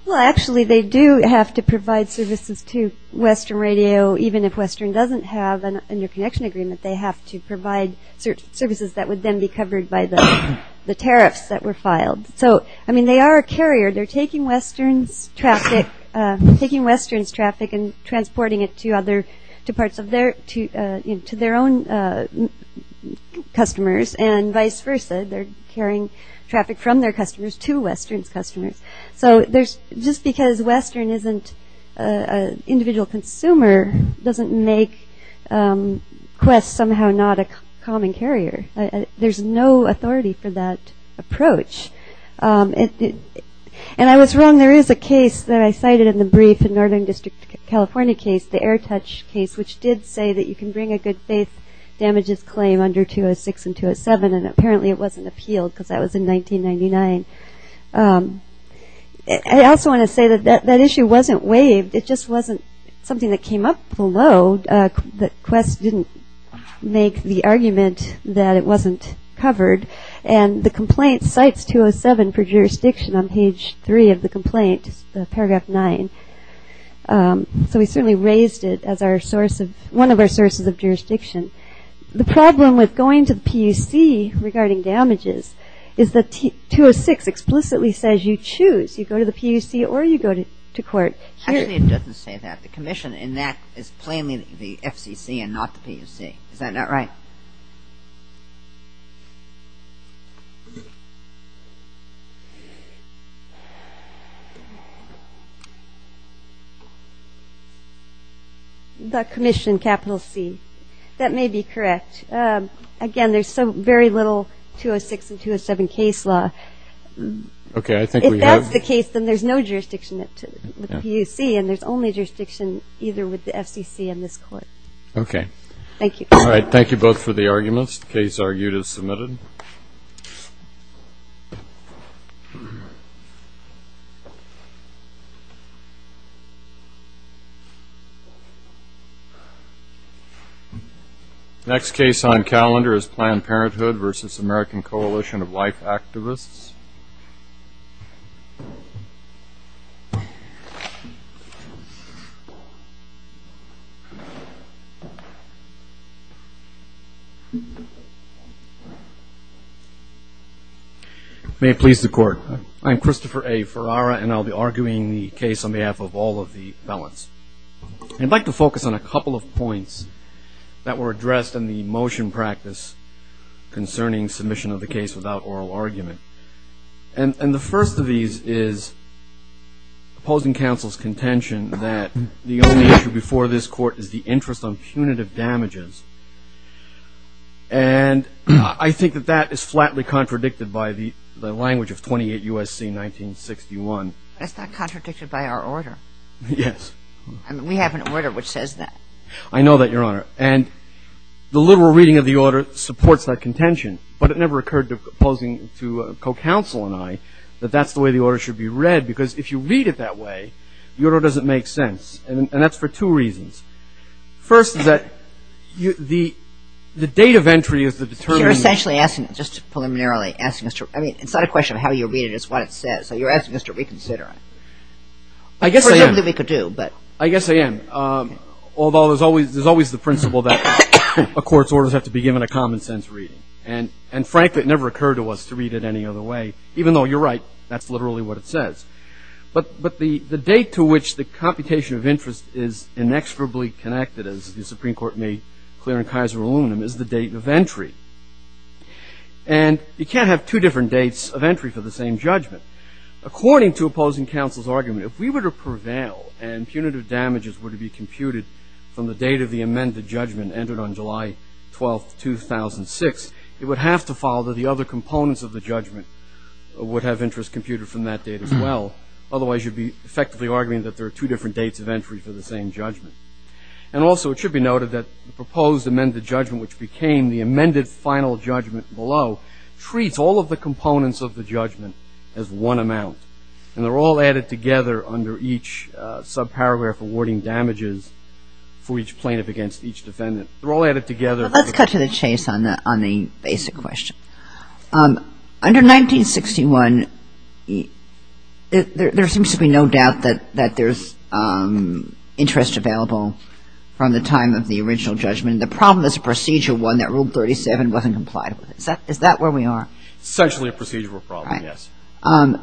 Well, actually, they do have to provide services to Western Radio, even if Western doesn't have an interconnection agreement, they have to provide services that would then be covered by the tariffs that were filed. So, I mean, they are a carrier. They're taking Western's traffic and transporting it to their own customers, and vice versa, they're carrying traffic from their customers to Western's customers. So just because Western isn't an individual consumer doesn't make Quest somehow not a common carrier. There's no authority for that approach. And I was wrong. There is a case that I cited in the brief, the Northern District, California case, the AirTouch case, which did say that you can bring a good faith damages claim under 206 and 207, and apparently it wasn't appealed because that was in 1999. I also want to say that that issue wasn't waived. It just wasn't something that came up below that Quest didn't make the argument that it wasn't covered, and the complaint cites 207 for jurisdiction on page 3 of the complaint, paragraph 9. So we certainly raised it as one of our sources of jurisdiction. The problem with going to the PUC regarding damages is that 206 explicitly says you choose. You go to the PUC or you go to court. Actually, it doesn't say that. The commission in that is claiming the FCC and not the PUC. Is that not right? The commission, capital C. That may be correct. Again, there's very little 206 and 207 case law. If that's the case, then there's no jurisdiction at the PUC, and there's only jurisdiction either with the FCC and this court. Okay. Thank you. All right. Thank you both for the arguments. Case argued is submitted. Next case on calendar is Planned Parenthood v. American Coalition of Life Activists. Christopher A. Ferrara May it please the court. I'm Christopher A. Ferrara, and I'll be arguing the case on behalf of all of the felons. I'd like to focus on a couple of points that were addressed in the motion practice concerning submission of the case without oral argument. And the first of these is opposing counsel's contention that the only issue before this court is the interest on punitive damages. And I think that that is flatly contradicted by the language of 28 U.S.C. 1961. That's not contradicted by our order. Yes. We have an order which says that. I know that, Your Honor. And the literal reading of the order supports that contention, but it never occurred to opposing, to co-counsel and I, that that's the way the order should be read because if you read it that way, the order doesn't make sense. And that's for two reasons. First is that the date of entry is the determinant. You're essentially asking, just preliminarily asking Mr. I mean, it's not a question of how you read it. It's what it says. So you're asking us to reconsider. I guess there's something we could do, but. I guess I am. Although there's always the principle that a court's orders have to be given a common sense reading. And frankly, it never occurred to us to read it any other way. Even though you're right, that's literally what it says. But the date to which the computation of interest is inexorably connected, as the Supreme Court made clear in Kaiser aluminum, is the date of entry. And you can't have two different dates of entry for the same judgment. According to opposing counsel's argument, if we were to prevail and punitive damages were to be computed from the date of the amended judgment and entered on July 12, 2006, it would have to follow that the other components of the judgment would have interest computed from that date as well. Otherwise you'd be effectively arguing that there are two different dates of entry for the same judgment. And also it should be noted that the proposed amended judgment, which became the amended final judgment below, treats all of the components of the judgment as one amount. And they're all added together under each subparameter for awarding damages for each plaintiff against each defendant. They're all added together. Let's cut to the chase on the basic question. Under 1961, there seems to be no doubt that there's interest available from the time of the original judgment. The problem is procedure one, that Rule 37 wasn't complied with. Is that where we are? Certainly a procedural problem, yes.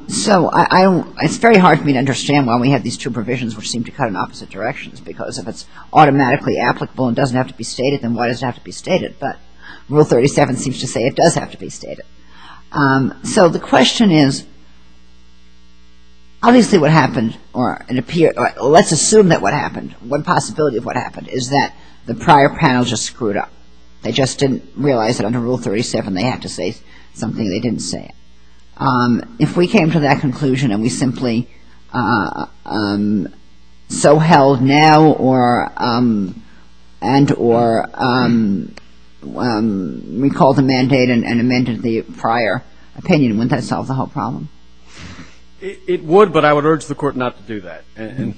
So, it's very hard for me to understand why we have these two provisions which seem to cut in opposite directions because if it's automatically applicable and doesn't have to be stated, then why does it have to be stated? But Rule 37 seems to say it does have to be stated. So, the question is, obviously what happened, or let's assume that what happened, one possibility of what happened is that the prior panel just screwed up. They just didn't realize that under Rule 37 they had to say something they didn't say. If we came to that conclusion and we simply so held now and or recalled the mandate and amended the prior opinion, wouldn't that solve the whole problem? It would, but I would urge the Court not to do that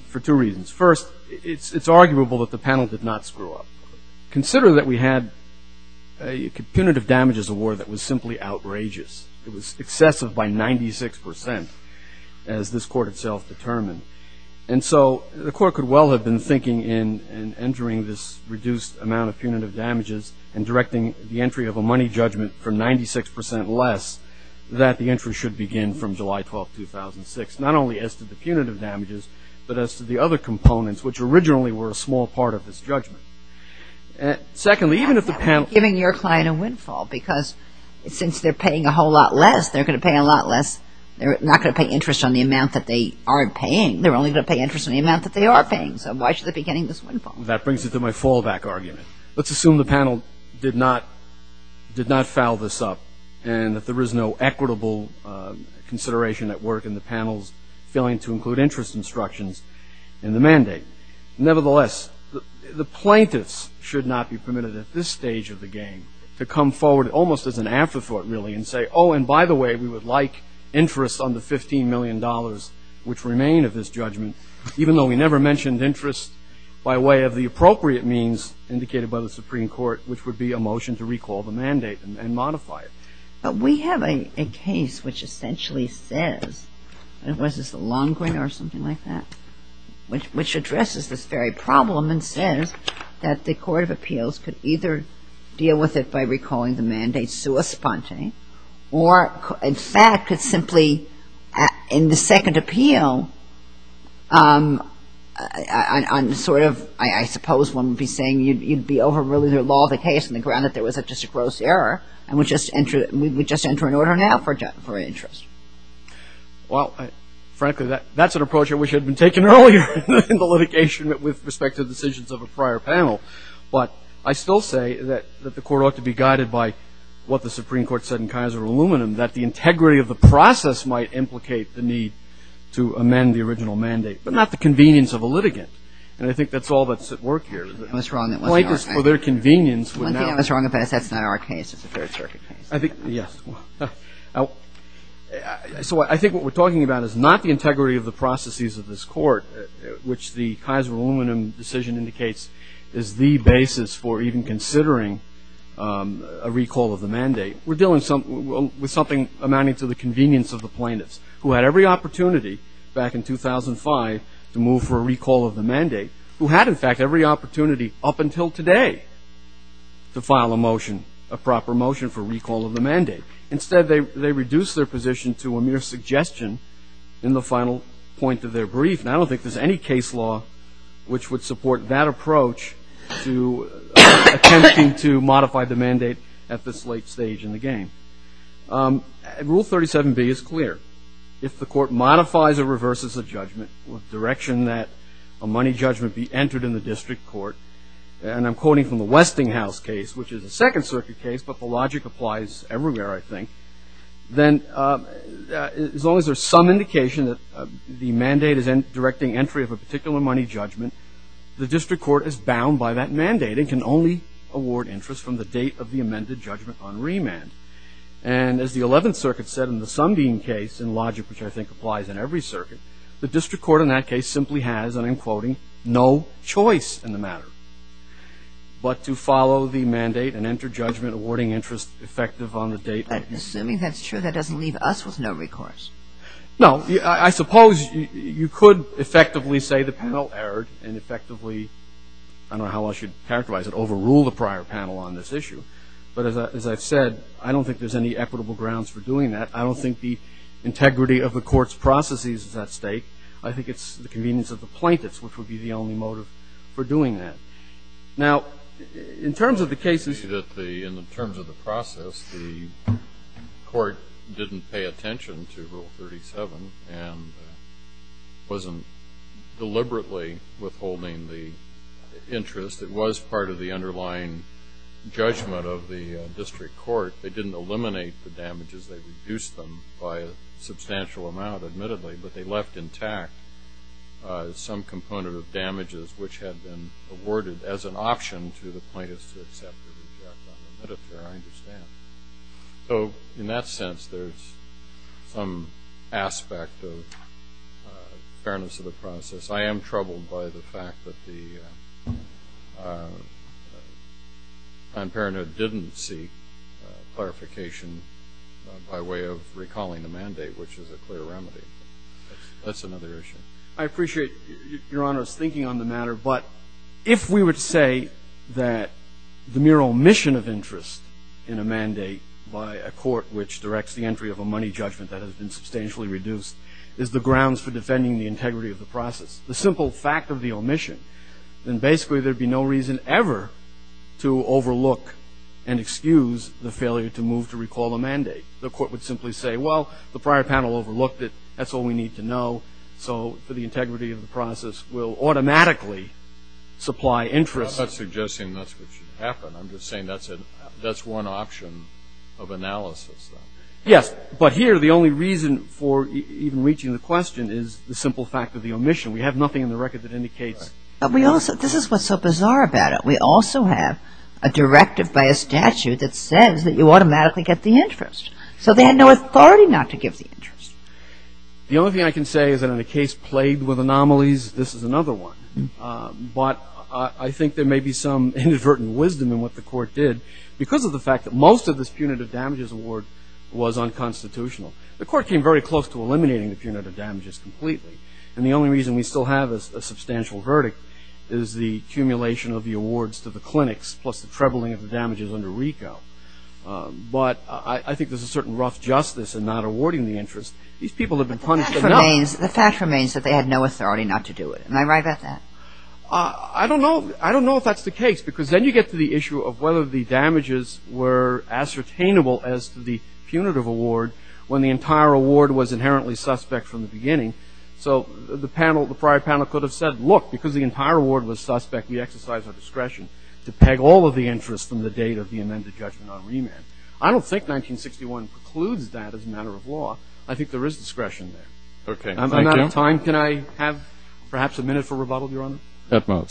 for two reasons. First, it's arguable that the panel did not screw up. Consider that we had a punitive damages award that was simply outrageous. It was excessive by 96% as this Court itself determined. And so, the Court could well have been thinking in and entering this reduced amount of punitive damages and directing the entry of a money judgment for 96% less that the entry should begin from July 12, 2006, not only as to the punitive damages, but as to the other components, which originally were a small part of this judgment. Secondly, even if the panel- I'm not giving your client a windfall because since they're paying a whole lot less, they're going to pay a lot less. They're not going to pay interest on the amount that they aren't paying. They're only going to pay interest on the amount that they are paying. So, why should they be getting this windfall? That brings me to my fallback argument. Let's assume the panel did not foul this up and that there is no equitable consideration at work in the panel's failing to include interest instructions in the mandate. Nevertheless, the plaintiffs should not be permitted at this stage of the game to come forward almost as an afterthought, really, and say, oh, and by the way, we would like interest on the $15 million, which remain of this judgment, even though we never mentioned interest by way of the appropriate means indicated by the Supreme Court, which would be a motion to recall the mandate and modify it. But we have a case which essentially says, was it the Longman or something like that, which addresses this very problem and says that the Court of Appeals could either deal with it by recalling the mandate sui sponte, or, in fact, could simply, in the second appeal, on sort of, I suppose one would be saying, you'd be overruling the law of the case, and granted there was just a gross error, and we would just enter an order now for interest. Well, frankly, that's an approach which had been taken earlier in the litigation with respect to the decisions of a prior panel. But I still say that the Court ought to be guided by what the Supreme Court said in Kaiser Aluminum, that the integrity of the process might implicate the need to amend the original mandate, but not the convenience of a litigant. And I think that's all that's at work here. The point is for their convenience. I think what we're talking about is not the integrity of the processes of this court, which the Kaiser Aluminum decision indicates is the basis for even considering a recall of the mandate. We're dealing with something amounting to the convenience of the plaintiffs, who had every opportunity back in 2005 to move for a recall of the mandate, who had, in fact, every opportunity up until today to file a motion, a proper motion for recall of the mandate. Instead, they reduced their position to a mere suggestion in the final point of their brief, and I don't think there's any case law which would support that approach to attempting to modify the mandate at this late stage in the game. Rule 37b is clear. If the court modifies or reverses a judgment with direction that a money judgment be entered in the district court, and I'm quoting from the Westinghouse case, which is a Second Circuit case, but the logic applies everywhere, I think, then as long as there's some indication that the mandate is directing entry of a particular money judgment, the district court is bound by that mandate and can only award interest from the date of the amended judgment on remand. And as the Eleventh Circuit said in the Sundin case, and logic which I think applies in every circuit, the district court in that case simply has, and I'm quoting, no choice in the matter, but to follow the mandate and enter judgment awarding interest effective on the date. But assuming that's true, that doesn't leave us with no recourse. No, I suppose you could effectively say the panel erred and effectively, I don't know how I should characterize it, overrule the prior panel on this issue. But as I've said, I don't think there's any equitable grounds for doing that. I don't think the integrity of the court's processes is at stake. I think it's the convenience of the plaintiffs which would be the only motive for doing that. Now, in terms of the process, the court didn't pay attention to Rule 37 and wasn't deliberately withholding the interest. It was part of the underlying judgment of the district court. They didn't eliminate the damages. They reduced them by a substantial amount, admittedly, but they left intact some component of damages which had been awarded as an option to the plaintiffs to accept or reject that limit. I understand. So in that sense, there's some aspect of fairness of the process. I am troubled by the fact that the non-parenthood didn't see clarification by way of recalling the mandate, which is a clear remedy. That's another issue. I appreciate Your Honor's thinking on the matter, but if we were to say that the mere omission of interest in a mandate by a court which directs the entry of a money judgment that has been substantially reduced is the grounds for defending the integrity of the process, the simple fact of the omission, then basically there would be no reason ever to overlook and excuse the failure to move to recall the mandate. The court would simply say, well, the prior panel overlooked it. That's all we need to know. So the integrity of the process will automatically supply interest. I'm not suggesting that's what should happen. I'm just saying that's one option of analysis. Yes, but here the only reason for even reaching the question is the simple fact of the omission. We have nothing in the record that indicates that. But this is what's so bizarre about it. We also have a directive by a statute that says that you automatically get the interest. So they had no authority not to give the interest. The only thing I can say is that in a case plagued with anomalies, this is another one. But I think there may be some inadvertent wisdom in what the court did because of the fact that most of this punitive damages award was unconstitutional. The court came very close to eliminating the punitive damages completely, and the only reason we still have a substantial verdict is the accumulation of the awards to the clinics plus the trebling of the damages under RICO. But I think there's a certain rough justice in not awarding the interest. These people have been punished enough. The fact remains that they had no authority not to do it. Am I right about that? I don't know if that's the case because then you get to the issue of whether the damages were ascertainable as to the punitive award when the entire award was inherently suspect from the beginning. So the prior panel could have said, look, because the entire award was suspect, we exercise our discretion to peg all of the interest from the date of the amended judgment on remand. I don't think 1961 precludes that as a matter of law. I think there is discretion there. Okay, thank you. I'm out of time. Can I have perhaps a minute for rebuttal, Your Honor? That's all.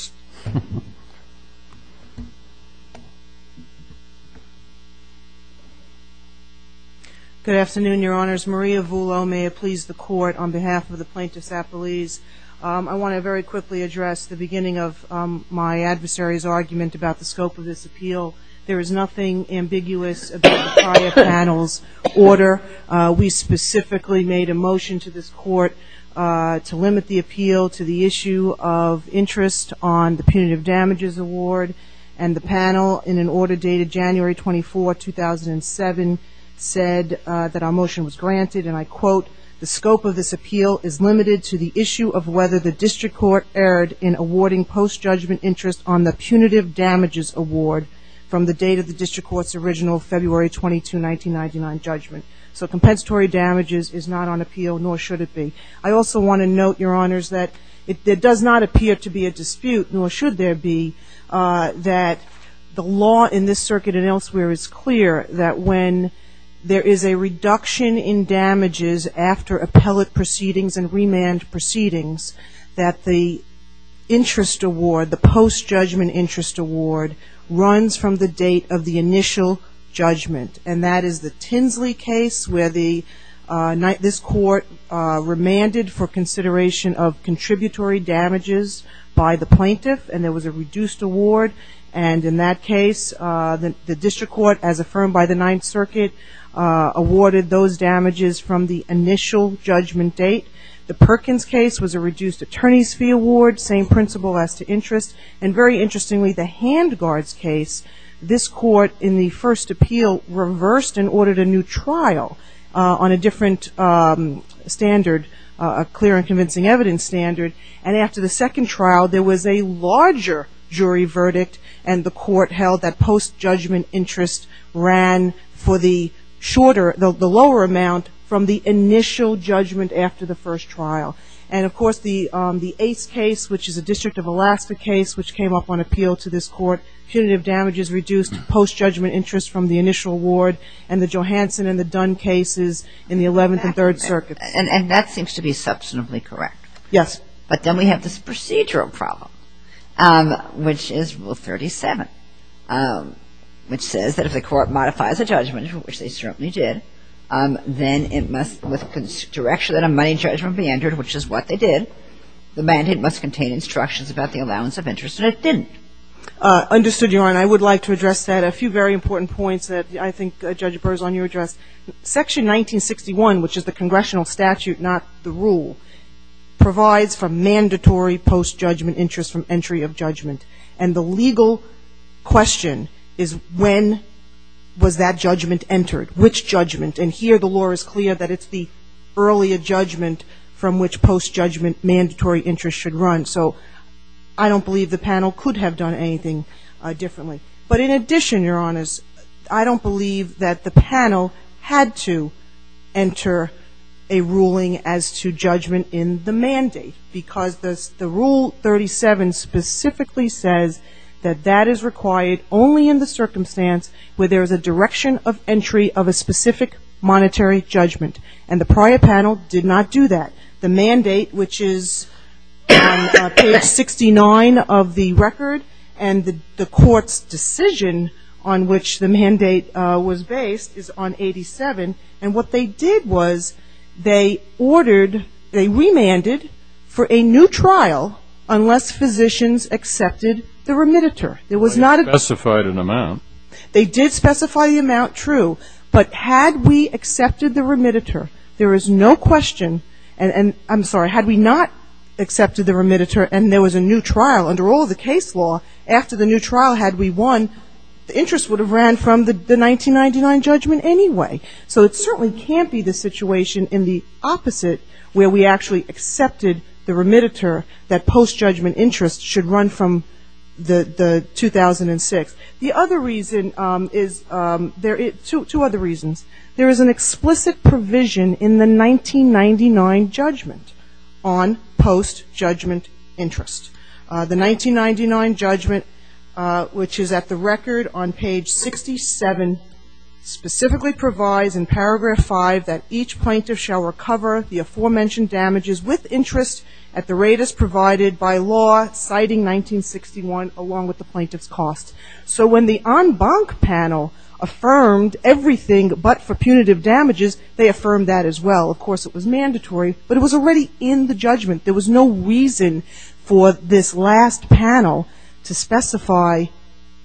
Good afternoon, Your Honors. Maria Voulot may have pleased the Court on behalf of the plaintiff's apologies. I want to very quickly address the beginning of my adversary's argument about the scope of this appeal. There is nothing ambiguous about the prior panel's order. We specifically made a motion to this Court to limit the appeal to the issue of interest on the punitive damages award. And the panel, in an order dated January 24, 2007, said that our motion was granted, and I quote, the scope of this appeal is limited to the issue of whether the district court erred in awarding post-judgment interest on the punitive damages award from the date of the district court's original February 22, 1999 judgment. So compensatory damages is not on appeal, nor should it be. I also want to note, Your Honors, that there does not appear to be a dispute, nor should there be, that the law in this circuit and elsewhere is clear that when there is a reduction in damages after appellate proceedings and remand proceedings, that the interest award, the post-judgment interest award, runs from the date of the initial judgment. And that is the Tinsley case, where this Court remanded for consideration of contributory damages by the plaintiff, and there was a reduced award. And in that case, the district court, as affirmed by the Ninth Circuit, awarded those damages from the initial judgment date. The Perkins case was a reduced attorney's fee award, same principle as to interest. And very interestingly, the Handgards case, this Court, in the first appeal, reversed and ordered a new trial on a different standard, a clear and convincing evidence standard. And after the second trial, there was a larger jury verdict, and the Court held that post-judgment interest ran for the shorter, the lower amount, from the initial judgment after the first trial. And, of course, the Ace case, which is a District of Alaska case, which came up on appeal to this Court, punitive damages reduced post-judgment interest from the initial award, and the Johansson and the Dunn cases in the Eleventh and Third Circuits. And that seems to be substantively correct. Yes. But then we have this procedural problem, which is Rule 37, which says that if a court modifies a judgment, which they certainly did, then it must, with the direction that a money judgment be entered, which is what they did, the mandate must contain instructions about the allowance of interest that it didn't. Understood, Your Honor. I would like to address that. A few very important points that I think Judge Burr is on your address. Section 1961, which is the congressional statute, not the rule, provides for mandatory post-judgment interest from entry of judgment. And the legal question is when was that judgment entered, which judgment? And here the law is clear that it's the earlier judgment from which post-judgment mandatory interest should run. So I don't believe the panel could have done anything differently. But in addition, Your Honors, I don't believe that the panel had to enter a ruling as to judgment in the mandate, because the Rule 37 specifically says that that is required only in the circumstance where there is a direction of entry of a specific monetary judgment. And the prior panel did not do that. The mandate, which is on page 69 of the record, and the court's decision on which the mandate was based is on 87. And what they did was they ordered, they remanded for a new trial unless physicians accepted the remitter. They specified an amount. They did specify the amount, true. But had we accepted the remitter, there is no question, and I'm sorry, had we not accepted the remitter and there was a new trial under all of the case law, after the new trial had we won, the interest would have ran from the 1999 judgment anyway. So it certainly can't be the situation in the opposite where we actually accepted the remitter that post-judgment interest should run from the 2006. The other reason is, two other reasons. There is an explicit provision in the 1999 judgment on post-judgment interest. The 1999 judgment, which is at the record on page 67, specifically provides in paragraph 5 that each plaintiff shall recover the aforementioned damages with interest at the rate as provided by law citing 1961 along with the plaintiff's cost. So when the en banc panel affirmed everything but for punitive damages, they affirmed that as well. Of course, it was mandatory, but it was already in the judgment. There was no reason for this last panel to specify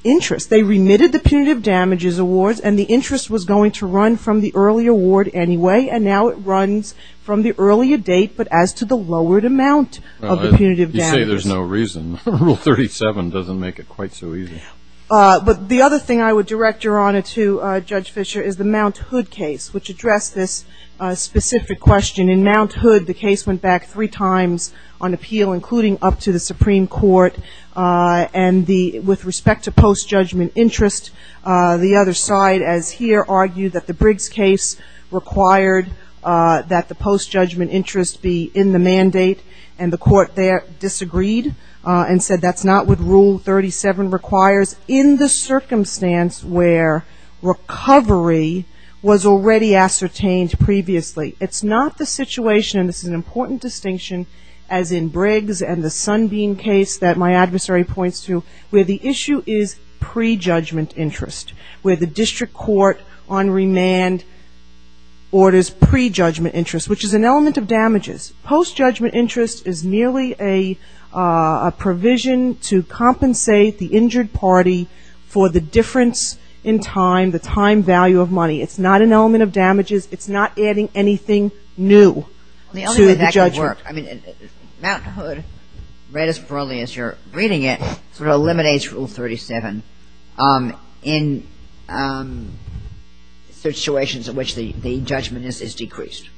interest. They remitted the punitive damages award, and the interest was going to run from the early award anyway, and now it runs from the earlier date but as to the lowered amount of the punitive damages. You say there's no reason. Rule 37 doesn't make it quite so easy. But the other thing I would direct your honor to, Judge Fischer, is the Mount Hood case, which addressed this specific question. In Mount Hood, the case went back three times on appeal, including up to the Supreme Court. And with respect to post-judgment interest, the other side, as here, argues that the Briggs case required that the post-judgment interest be in the mandate, and the court there disagreed and said that's not what Rule 37 requires in the circumstance where recovery was already ascertained previously. It's not the situation, and it's an important distinction, as in Briggs and the Sunbeam case that my adversary points to, where the issue is pre-judgment interest, where the district court on remand orders pre-judgment interest, which is an element of damages. Post-judgment interest is merely a provision to compensate the injured party for the difference in time, the time value of money. It's not an element of damages. It's not adding anything new to the judgment. I mean, Mount Hood, read as thoroughly as you're reading it, sort of eliminates Rule 37 in situations in which the judgment is decreased.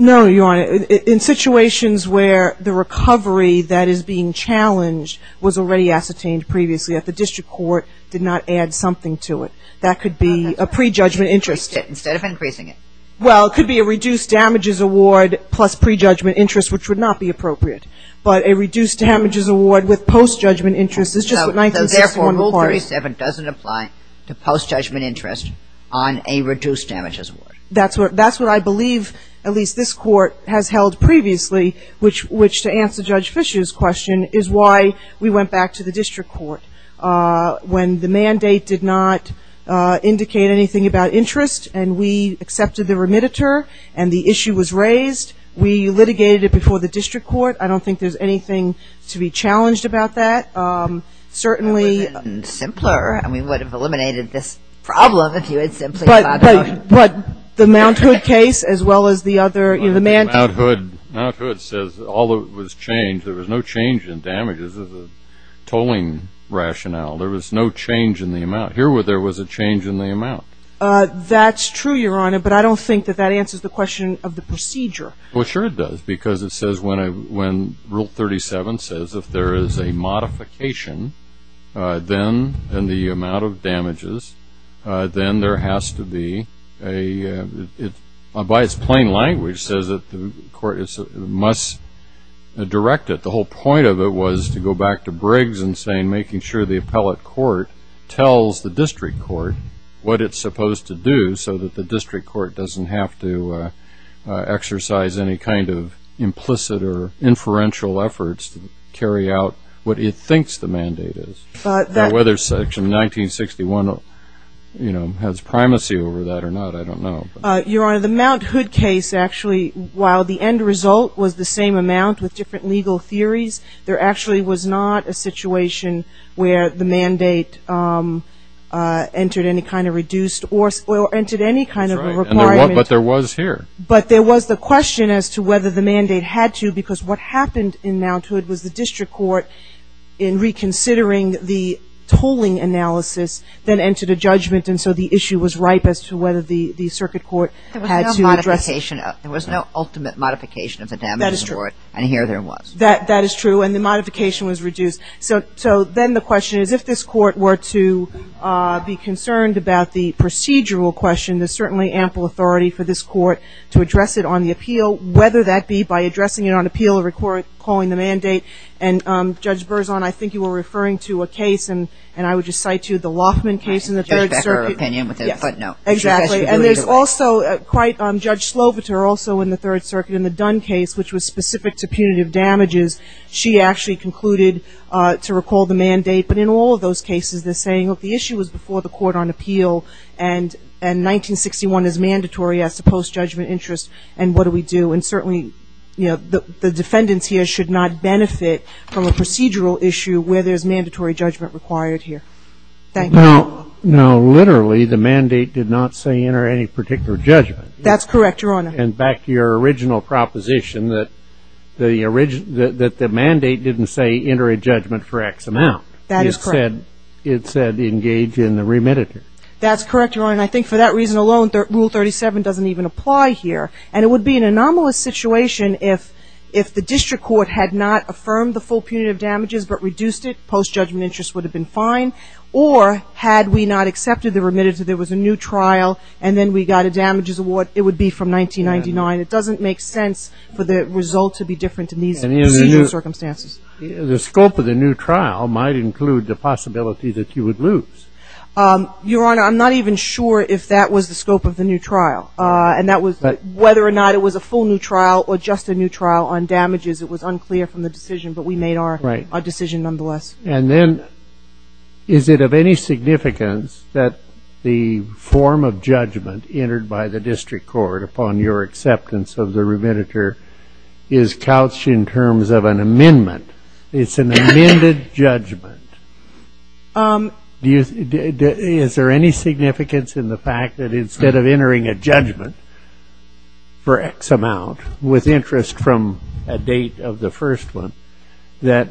No, Your Honor. In situations where the recovery that is being challenged was already ascertained previously, if the district court did not add something to it, that could be a pre-judgment interest. Instead of increasing it. Well, it could be a reduced damages award plus pre-judgment interest, which would not be appropriate. But a reduced damages award with post-judgment interest is just what 9-1-1 requires. Therefore, Rule 37 doesn't apply to post-judgment interest on a reduced damages award. That's what I believe, at least this Court has held previously, which to answer Judge Fischer's question is why we went back to the district court. When the mandate did not indicate anything about interest and we accepted the remitter and the issue was raised, we litigated it before the district court. I don't think there's anything to be challenged about that. Certainly. It would have been simpler. I mean, we would have eliminated this problem if you had simply not done it. But the Mount Hood case as well as the other, you know, the mandate. Mount Hood says all of it was changed. There was no change in damages as a tolling rationale. There was no change in the amount. Here there was a change in the amount. That's true, Your Honor, but I don't think that that answers the question of the procedure. Well, sure it does because it says when Rule 37 says if there is a modification, then the amount of damages, then there has to be a, by its plain language says that the court must direct it. The whole point of it was to go back to Briggs and saying making sure the appellate court tells the district court what it's supposed to do so that the district court doesn't have to exercise any kind of implicit or inferential efforts to carry out what it thinks the mandate is. Whether Section 1961, you know, has primacy over that or not, I don't know. Your Honor, the Mount Hood case actually, while the end result was the same amount with different legal theories, there actually was not a situation where the mandate entered any kind of reduced or entered any kind of a requirement. But there was here. But there was the question as to whether the mandate had to because what happened in Mount Hood was the district court in reconsidering the tolling analysis then entered a judgment and so the issue was ripe as to whether the circuit court had to address it. There was no modification. There was no ultimate modification of the damages. That is true. And here there was. That is true and the modification was reduced. So then the question is if this court were to be concerned about the procedural question, there's certainly ample authority for this court to address it on the appeal, whether that be by addressing it on appeal or recalling the mandate. And Judge Berzon, I think you were referring to a case, and I would just cite you, the Loffman case in the Third Circuit. Judge Becker opinion with his footnote. Exactly. And there's also quite, Judge Slobitzer also in the Third Circuit in the Dunn case, which was specific to punitive damages, she actually concluded to recall the mandate. But in all of those cases they're saying that the issue was before the court on appeal and 1961 is mandatory as to post-judgment interest and what do we do? And certainly, you know, the defendants here should not benefit from a procedural issue where there's mandatory judgment required here. Thank you. Now, literally the mandate did not say enter any particular judgment. That's correct, Your Honor. And back to your original proposition that the mandate didn't say enter a judgment for X amount. That is correct. It said engage in the remittance. That's correct, Your Honor, and I think for that reason alone, Rule 37 doesn't even apply here. And it would be an anomalous situation if the district court had not affirmed the full punitive damages but reduced it, post-judgment interest would have been fine. Or had we not accepted the remittance, if there was a new trial and then we got a damages award, it would be from 1999. It doesn't make sense for the result to be different in these circumstances. The scope of the new trial might include the possibility that you would lose. Your Honor, I'm not even sure if that was the scope of the new trial, and that was whether or not it was a full new trial or just a new trial on damages. It was unclear from the decision, but we made our decision nonetheless. And then is it of any significance that the form of judgment entered by the district court upon your acceptance of the remittance is couched in terms of an amendment? It's an amended judgment. Is there any significance in the fact that instead of entering a judgment for X amount, with interest from a date of the first one, that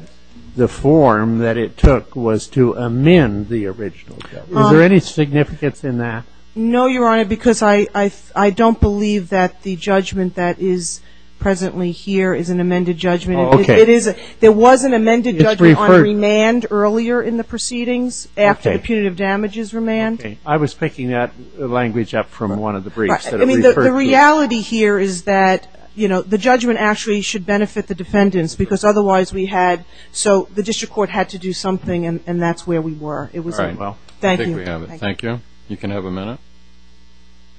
the form that it took was to amend the original judgment? Is there any significance in that? No, Your Honor, because I don't believe that the judgment that is presently here is an amended judgment. There was an amended judgment on remand earlier in the proceedings, after the punitive damages remand. I was picking that language up from one of the briefs. The reality here is that the judgment actually should benefit the defendants, because otherwise we had, so the district court had to do something, and that's where we were. All right. Thank you. Thank you. You can have a minute.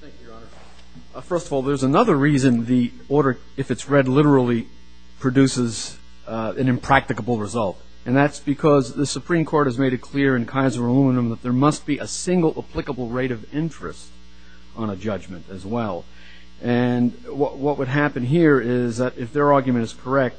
Thank you, Your Honor. First of all, there's another reason the order, if it's read literally, produces an impracticable result, and that's because the Supreme Court has made it clear in Kaiser Aluminum that there must be a single applicable rate of interest on a judgment as well. And what would happen here is that if their argument is correct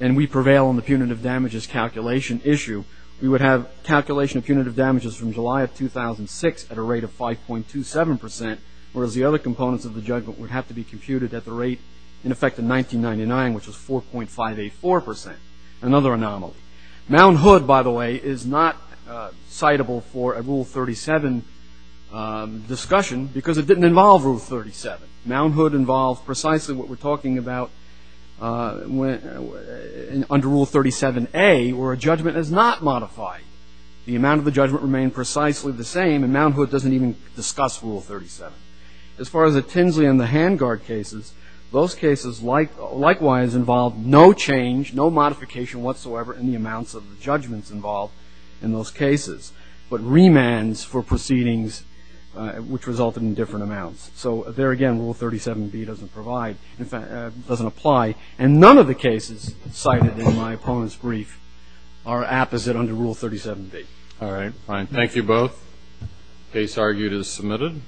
and we prevail on the punitive damages calculation issue, we would have calculation of punitive damages from July of 2006 at a rate of 5.27 percent, whereas the other components of the judgment would have to be computed at the rate, in effect, of 1999, which is 4.584 percent, another anomaly. Mound Hood, by the way, is not citable for a Rule 37 discussion because it didn't involve Rule 37. Mound Hood involved precisely what we're talking about under Rule 37A, where a judgment is not modified. The amount of the judgment remained precisely the same, and Mound Hood doesn't even discuss Rule 37. As far as the Tinsley and the Hangard cases, those cases likewise involved no change, no modification whatsoever in the amounts of the judgments involved in those cases, but remands for proceedings which resulted in different amounts. So there again, Rule 37B doesn't provide, doesn't apply, and none of the cases cited in my opponent's brief are apposite under Rule 37B. All right. Fine. Thank you both. Case argued as submitted.